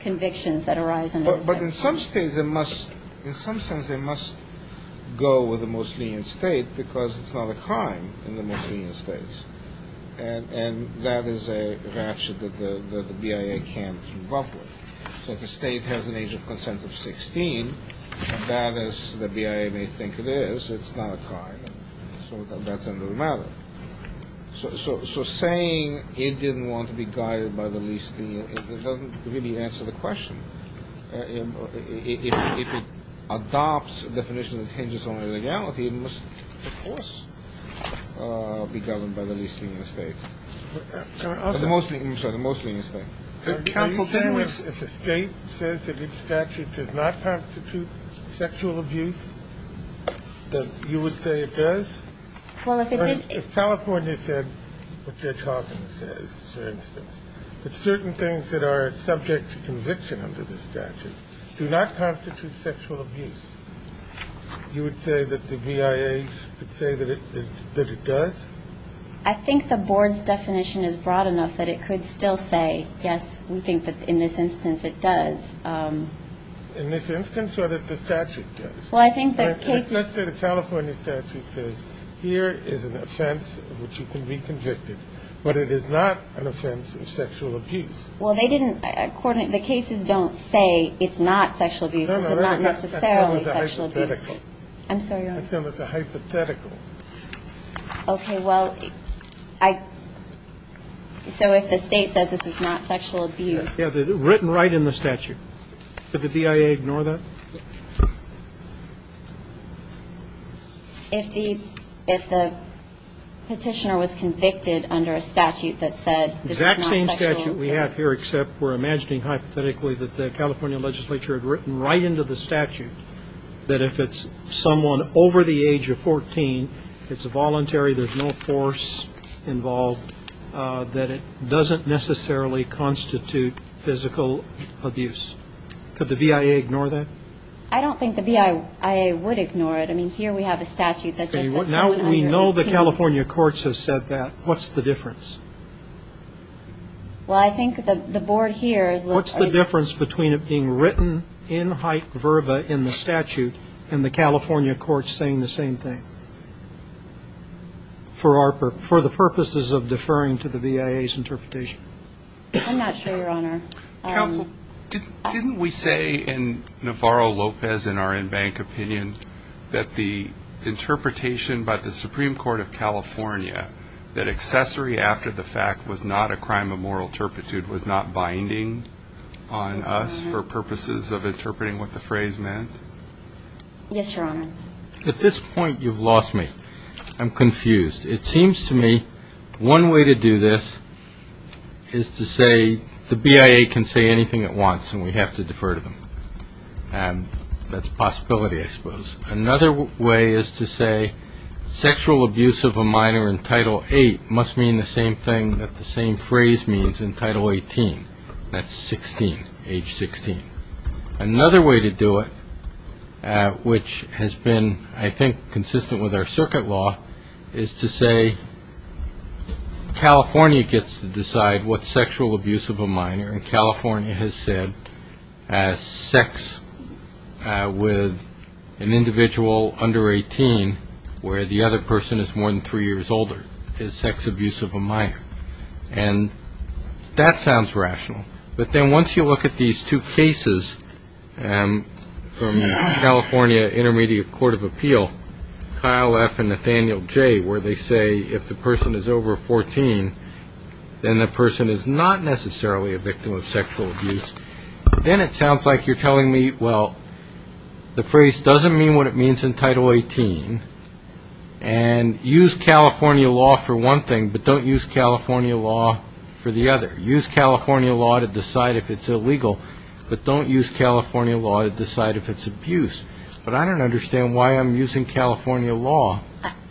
convictions that arise under the statute. But in some States, in some sense, they must go with the most lenient State because it's not a crime in the most lenient States. And that is a ratchet that the BIA can't come up with. So if a State has an age of consent of 16, that is, the BIA may think it is, it's not a crime. So that's a new matter. So saying it didn't want to be guided by the least lenient, it doesn't really answer the question. If it adopts a definition that hinges on illegality, it must, of course, be governed by the least lenient State. The most lenient State. Are you saying if a State says that its statute does not constitute sexual abuse, that you would say it does? If California said what Judge Hawkins says, for instance, that certain things that are subject to conviction under the statute do not constitute sexual abuse, you would say that the BIA could say that it does? I think the Board's definition is broad enough that it could still say, yes, we think that in this instance it does. In this instance or that the statute does? Let's say the California statute says here is an offense in which you can be convicted, but it is not an offense of sexual abuse. Well, they didn't coordinate. The cases don't say it's not sexual abuse. It's not necessarily sexual abuse. That's known as a hypothetical. I'm sorry, Your Honor. That's known as a hypothetical. Okay. Well, I so if the State says this is not sexual abuse. Written right in the statute. Did the BIA ignore that? If the petitioner was convicted under a statute that said this is not sexual abuse. The exact same statute we have here, except we're imagining hypothetically that the California legislature had written right into the statute that if it's someone over the age of 14, it's voluntary, there's no force involved, that it doesn't necessarily constitute physical abuse. Could the BIA ignore that? I don't think the BIA would ignore it. I mean, here we have a statute that just says. Now we know the California courts have said that. What's the difference? Well, I think the board here is. What's the difference between it being written in height verba in the statute and the California courts saying the same thing? For the purposes of deferring to the BIA's interpretation. I'm not sure, Your Honor. Didn't we say in Navarro-Lopez in our in-bank opinion that the interpretation by the Supreme Court of California that accessory after the fact was not a crime of moral turpitude was not binding on us for purposes of interpreting what the phrase meant? Yes, Your Honor. At this point, you've lost me. I'm confused. It seems to me one way to do this is to say the BIA can say anything it wants and we have to defer to them. That's a possibility, I suppose. Another way is to say sexual abuse of a minor in Title 8 must mean the same thing that the same phrase means in Title 18. That's 16, age 16. Another way to do it, which has been, I think, consistent with our circuit law, is to say California gets to decide what sexual abuse of a minor. And California has said sex with an individual under 18 where the other person is more than three years older is sex abuse of a minor. And that sounds rational. But then once you look at these two cases from the California Intermediate Court of Appeal, Kyle F. and Nathaniel J., where they say if the person is over 14, then the person is not necessarily a victim of sexual abuse. Then it sounds like you're telling me, well, the phrase doesn't mean what it means in Title 18. And use California law for one thing, but don't use California law for the other. Use California law to decide if it's illegal, but don't use California law to decide if it's abuse. But I don't understand why I'm using California law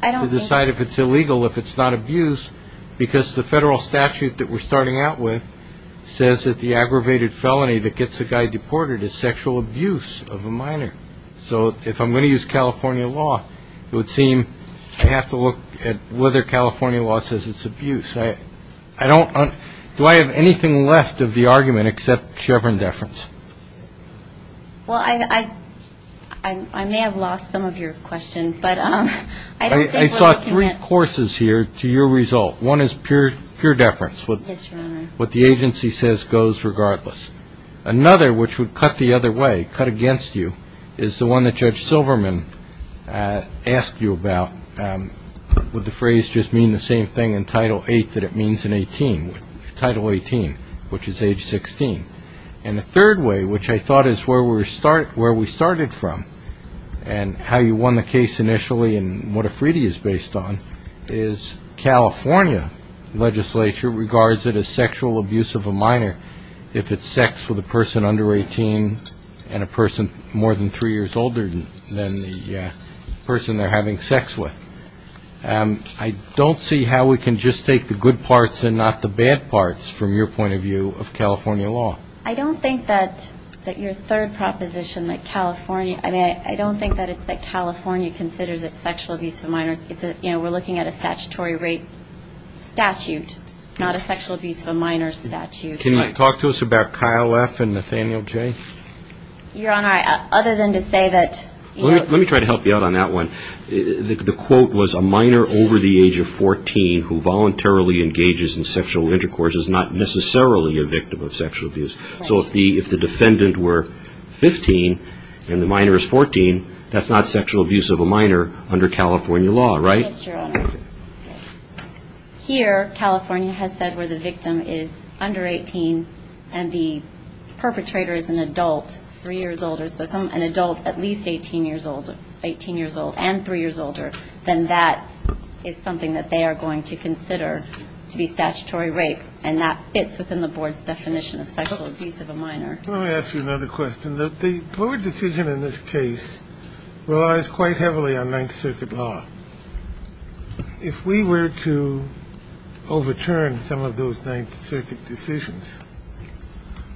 to decide if it's illegal, if it's not abuse, because the federal statute that we're starting out with says that the aggravated felony that gets a guy deported is sexual abuse of a minor. So if I'm going to use California law, it would seem I have to look at whether California law says it's abuse. Do I have anything left of the argument except Chevron deference? Well, I may have lost some of your question, but I don't think what you meant. I saw three courses here to your result. One is pure deference, what the agency says goes regardless. Another, which would cut the other way, cut against you, is the one that Judge Silverman asked you about. Would the phrase just mean the same thing in Title VIII that it means in 18? Title XVIII, which is age 16. And the third way, which I thought is where we started from and how you won the case initially and what a freedie is based on, is California legislature regards it as sexual abuse of a minor if it's sex with a person under 18 and a person more than three years older than the person they're having sex with. I don't see how we can just take the good parts and not the bad parts, from your point of view, of California law. I don't think that your third proposition, that California ‑‑ I mean, I don't think that it's that California considers it sexual abuse of a minor. Can you talk to us about Kyle F. and Nathaniel J.? Your Honor, other than to say that ‑‑ Let me try to help you out on that one. The quote was a minor over the age of 14 who voluntarily engages in sexual intercourse is not necessarily a victim of sexual abuse. So if the defendant were 15 and the minor is 14, that's not sexual abuse of a minor under California law, right? Yes, Your Honor. Here, California has said where the victim is under 18 and the perpetrator is an adult three years older, so an adult at least 18 years old and three years older, then that is something that they are going to consider to be statutory rape, and that fits within the board's definition of sexual abuse of a minor. Let me ask you another question. The board decision in this case relies quite heavily on Ninth Circuit law. If we were to overturn some of those Ninth Circuit decisions,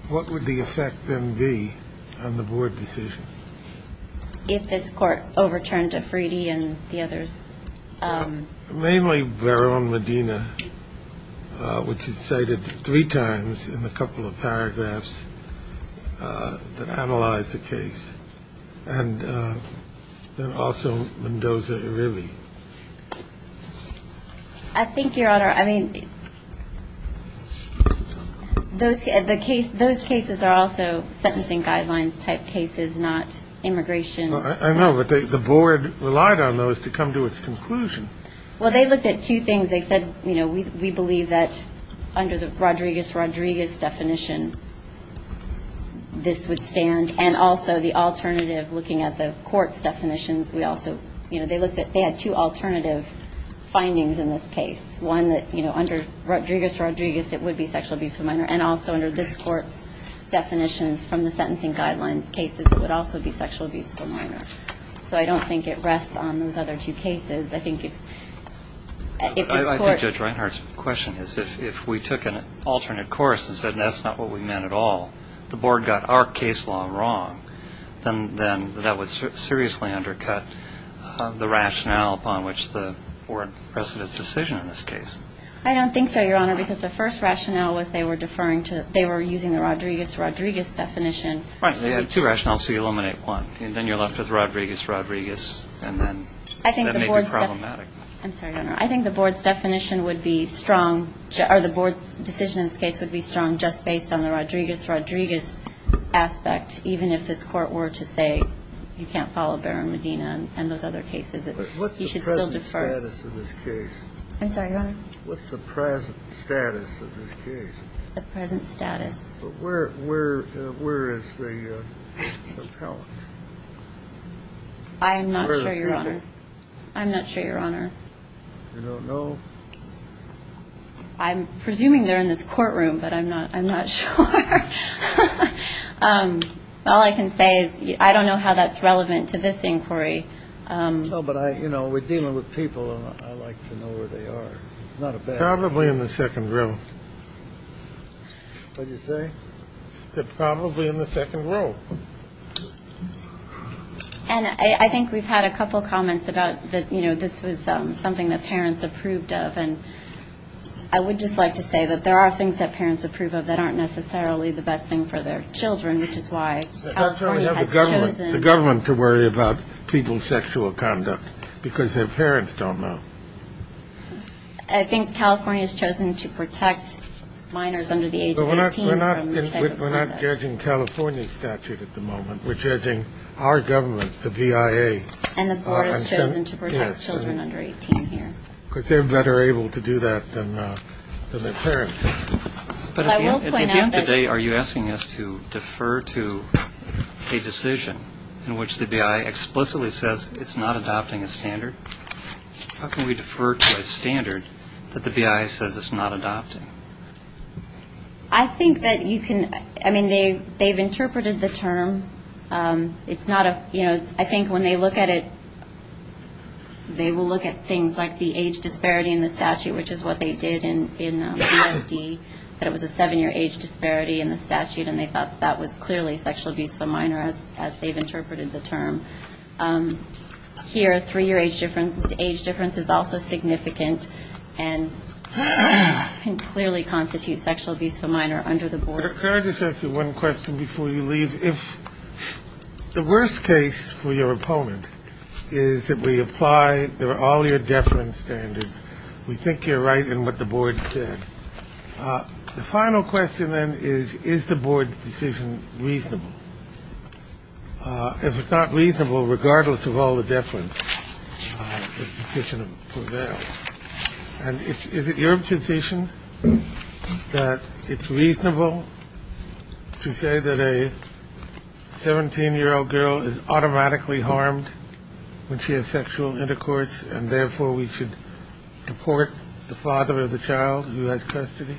what would the effect then be on the board decision? If this court overturned Afridi and the others? Mainly Verón Medina, which is cited three times in a couple of paragraphs that analyze the case, and then also Mendoza Uribe. I think, Your Honor, I mean, those cases are also sentencing guidelines type cases, not immigration. I know, but the board relied on those to come to its conclusion. Well, they looked at two things. They said, you know, we believe that under the Rodriguez-Rodriguez definition, this would stand, and also the alternative, looking at the court's definitions, we also, you know, they looked at they had two alternative findings in this case, one that, you know, under Rodriguez-Rodriguez, it would be sexual abuse of a minor, and also under this court's definitions from the sentencing guidelines cases, it would also be sexual abuse of a minor. So I don't think it rests on those other two cases. I think if this court… I think Judge Reinhart's question is if we took an alternate course and said that's not what we meant at all, the board got our case law wrong, then that would seriously undercut the rationale upon which the board presented its decision in this case. I don't think so, Your Honor, because the first rationale was they were deferring to – they were using the Rodriguez-Rodriguez definition. Right. They had two rationales, so you eliminate one, and then you're left with Rodriguez-Rodriguez, and then that may be problematic. I think the board's – I'm sorry, Your Honor. I think the board's definition would be strong – or the board's decision in this case would be strong just based on the Rodriguez-Rodriguez aspect, even if this court were to say you can't follow Barron-Medina and those other cases. He should still defer. What's the present status of this case? I'm sorry, Your Honor? What's the present status of this case? The present status. Where is the appellant? I am not sure, Your Honor. I'm not sure, Your Honor. You don't know? I'm presuming they're in this courtroom, but I'm not sure. All I can say is I don't know how that's relevant to this inquiry. No, but, you know, we're dealing with people, and I'd like to know where they are. Probably in the second room. What did you say? She said probably in the second room. And I think we've had a couple comments about, you know, this was something that parents approved of, and I would just like to say that there are things that parents approve of that aren't necessarily the best thing for their children, which is why California has chosen – But California has the government to worry about people's sexual conduct because their parents don't know. I think California has chosen to protect minors under the age of 18 from this type of conduct. We're not judging California's statute at the moment. We're judging our government, the BIA. And the board has chosen to protect children under 18 here. Because they're better able to do that than their parents. But at the end of the day, are you asking us to defer to a decision in which the BIA explicitly says it's not adopting a standard? How can we defer to a standard that the BIA says it's not adopting? I think that you can – I mean, they've interpreted the term. It's not a – you know, I think when they look at it, they will look at things like the age disparity in the statute, which is what they did in the BFD, that it was a seven-year age disparity in the statute, and they thought that was clearly sexual abuse of a minor, as they've interpreted the term. Here, a three-year age difference is also significant and can clearly constitute sexual abuse of a minor under the board. Can I just ask you one question before you leave? If the worst case for your opponent is that we apply all your deference standards, we think you're right in what the board said. The final question, then, is, is the board's decision reasonable? If it's not reasonable, regardless of all the deference, the position prevails. And is it your position that it's reasonable to say that a 17-year-old girl is automatically harmed when she has sexual intercourse and, therefore, we should deport the father of the child who has custody?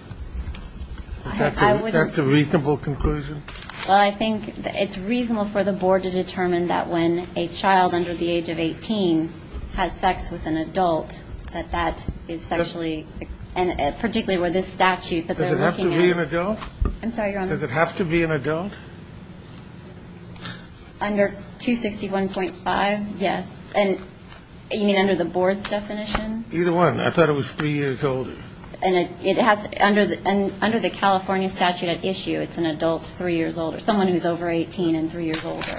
That's a reasonable conclusion? Well, I think it's reasonable for the board to determine that when a child under the age of 18 has sex with an adult, that that is sexually, and particularly with this statute that they're looking at. Does it have to be an adult? I'm sorry, Your Honor. Does it have to be an adult? Under 261.5, yes. And you mean under the board's definition? Either one. I thought it was three years older. Under the California statute at issue, it's an adult three years older, someone who's over 18 and three years older.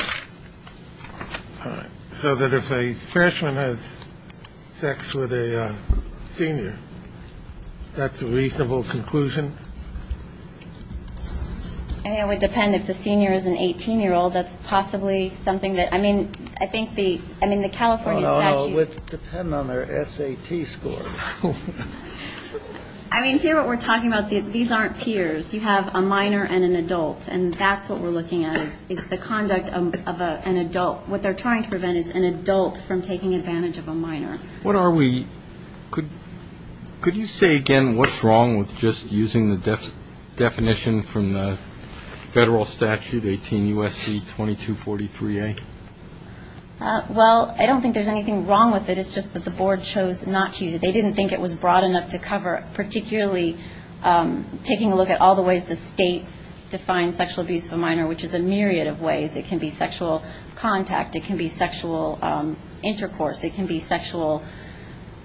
All right. So that if a freshman has sex with a senior, that's a reasonable conclusion? I mean, it would depend. If the senior is an 18-year-old, that's possibly something that, I mean, I think the California statute. Well, it would depend on their SAT score. I mean, here what we're talking about, these aren't peers. You have a minor and an adult, and that's what we're looking at is the conduct of an adult. What they're trying to prevent is an adult from taking advantage of a minor. Could you say again what's wrong with just using the definition from the federal statute, 18 U.S.C. 2243A? Well, I don't think there's anything wrong with it. It's just that the board chose not to use it. They didn't think it was broad enough to cover it, particularly taking a look at all the ways the states define sexual abuse of a minor, which is a myriad of ways. It can be sexual contact. It can be sexual intercourse. It can be sexual,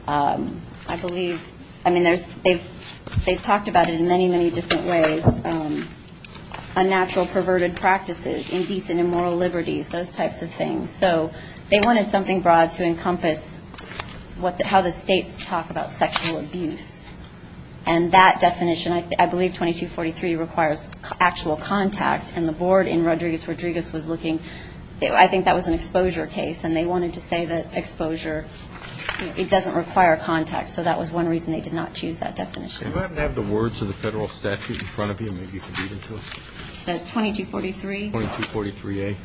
I believe, I mean, they've talked about it in many, many different ways. Unnatural perverted practices, indecent immoral liberties, those types of things. So they wanted something broad to encompass how the states talk about sexual abuse. And that definition, I believe 2243 requires actual contact, and the board in Rodriguez-Rodriguez was looking. I think that was an exposure case, and they wanted to say that exposure, it doesn't require contact. So that was one reason they did not choose that definition. You haven't had the words of the federal statute in front of you. Maybe you could read it to us. 2243? 2243A.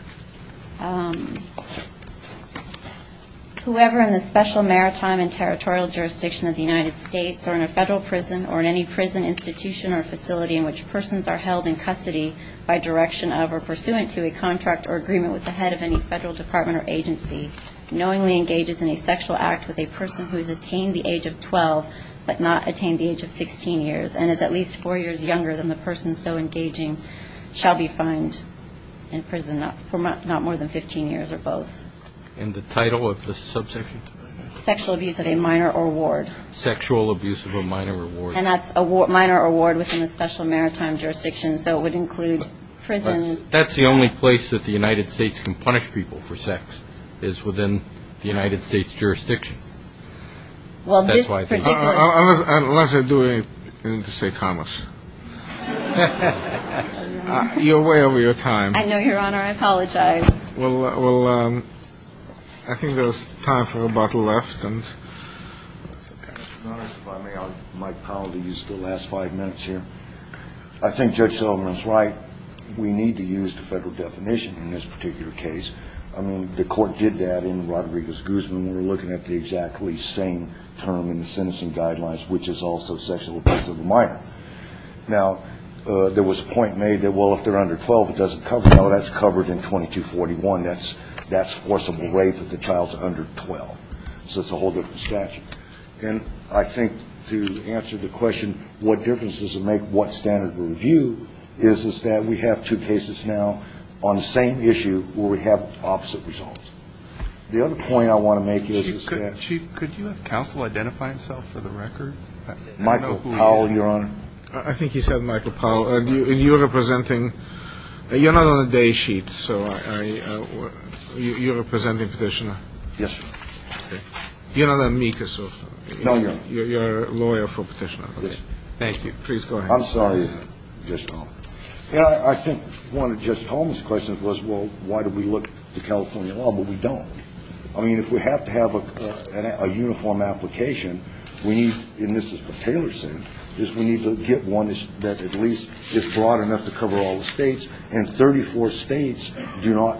Whoever in the special maritime and territorial jurisdiction of the United States or in a federal prison or in any prison institution or facility in which persons are held in custody by direction of or pursuant to a contract or agreement with the head of any federal department or agency knowingly engages in a sexual act with a person who has attained the age of 12 but not attained the age of 16 years and is at least four years younger than the person so engaging shall be fined in prison not more than 15 years or both. And the title of the subsection? Sexual abuse of a minor or ward. Sexual abuse of a minor or ward. And that's a minor or ward within the special maritime jurisdiction, so it would include prisons. That's the only place that the United States can punish people for sex is within the United States jurisdiction. Unless I do it, you need to say commas. You're way over your time. I know, Your Honor. I apologize. Well, I think there's time for about a left. Mike Powell to use the last five minutes here. I think Judge Sullivan's right. We need to use the federal definition in this particular case. I mean, the court did that in Rodriguez-Guzman. We're looking at the exactly same term in the sentencing guidelines, which is also sexual abuse of a minor. Now, there was a point made that, well, if they're under 12, it doesn't cover them. No, that's covered in 2241. That's forcible rape if the child's under 12. So it's a whole different statute. And I think to answer the question what difference does it make what standard of review is, is that we have two cases now on the same issue where we have opposite results. The other point I want to make is that you have counsel identify himself for the record. Michael Powell, Your Honor. I think he said Michael Powell. And you're representing you're not on the day sheet. So you're representing Petitioner. Yes, sir. You're not an amicus. No, Your Honor. You're a lawyer for Petitioner. Thank you. Please go ahead. I'm sorry. I think one of Justice Holmes' questions was, well, why do we look to California law, but we don't. I mean, if we have to have a uniform application, we need, and this is what Taylor said, is we need to get one that at least is broad enough to cover all the States, and 34 States do not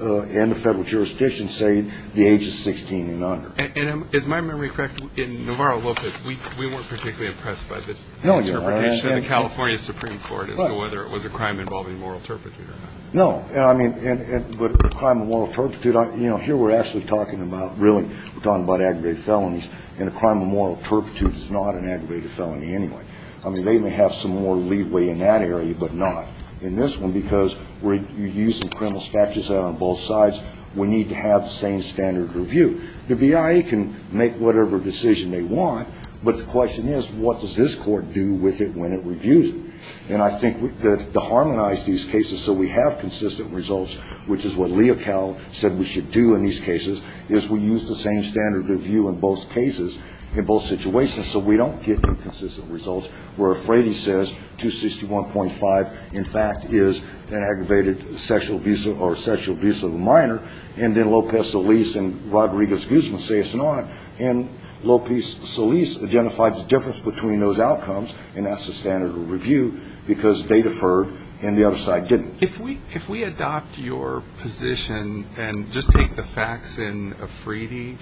and the Federal jurisdiction say the age is 16 and under. And is my memory correct, in Navarro-Lopez, we weren't particularly impressed by the interpretation of the California Supreme Court as to whether it was a crime involving moral turpitude or not. No. I mean, but a crime of moral turpitude, you know, here we're actually talking about, really, we're talking about aggravated felonies, and a crime of moral turpitude is not an aggravated felony anyway. I mean, they may have some more leeway in that area, but not in this one, because we're using criminal statutes out on both sides. We need to have the same standard of review. The BIA can make whatever decision they want, but the question is, what does this court do with it when it reviews it? And I think to harmonize these cases so we have consistent results, which is what Leocal said we should do in these cases, is we use the same standard of review in both cases, in both situations, so we don't get inconsistent results where Frady says 261.5, in fact, is an aggravated sexual abuse or sexual abuse of a minor, and then Lopez-Solis and Rodriguez-Guzman say it's not. And Lopez-Solis identified the difference between those outcomes, and that's the standard of review, because they deferred and the other side didn't. If we adopt your position and just take the facts in of Frady,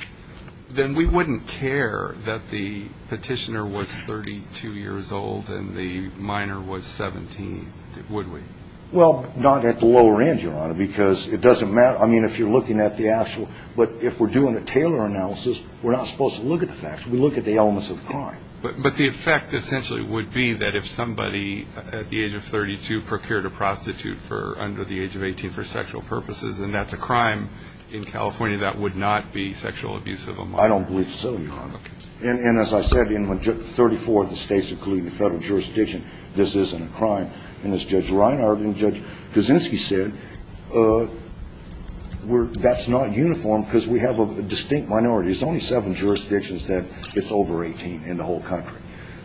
then we wouldn't care that the petitioner was 32 years old and the minor was 17, would we? Well, not at the lower end, Your Honor, because it doesn't matter. I mean, if you're looking at the actual – but if we're doing a Taylor analysis, we're not supposed to look at the facts. We look at the elements of the crime. But the effect essentially would be that if somebody at the age of 32 procured a prostitute for – under the age of 18 for sexual purposes, and that's a crime in California, that would not be sexual abuse of a minor. I don't believe so, Your Honor. Okay. And as I said, in 34 of the States, including the Federal jurisdiction, this isn't a crime. And as Judge Reinhart and Judge Kuczynski said, we're – that's not uniform because we have a distinct minority. There's only seven jurisdictions that it's over 18 in the whole country.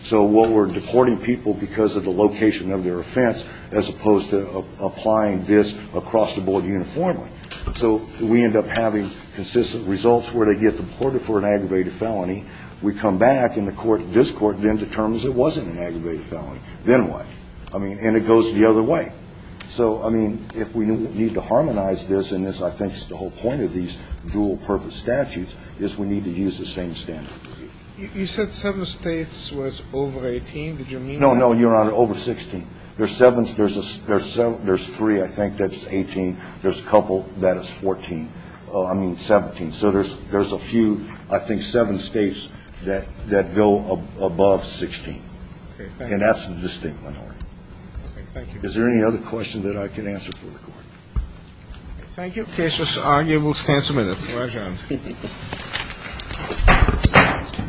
So while we're deporting people because of the location of their offense as opposed to applying this across the board uniformly, so we end up having consistent results where they get deported for an aggravated felony. We come back and the court – this court then determines it wasn't an aggravated Then what? I mean, and it goes the other way. So, I mean, if we need to harmonize this, and this, I think, is the whole point of these dual-purpose statutes, is we need to use the same standard. You said seven States was over 18. Did you mean that? No, no, Your Honor, over 16. There's seven – there's three, I think, that's 18. There's a couple that is 14 – I mean, 17. So there's a few, I think, seven States that go above 16. Okay. And that's the distinct minority. Okay. Thank you. Is there any other question that I can answer for the Court? Thank you. The case is argued. We'll stand some minutes. Roger. Thank you.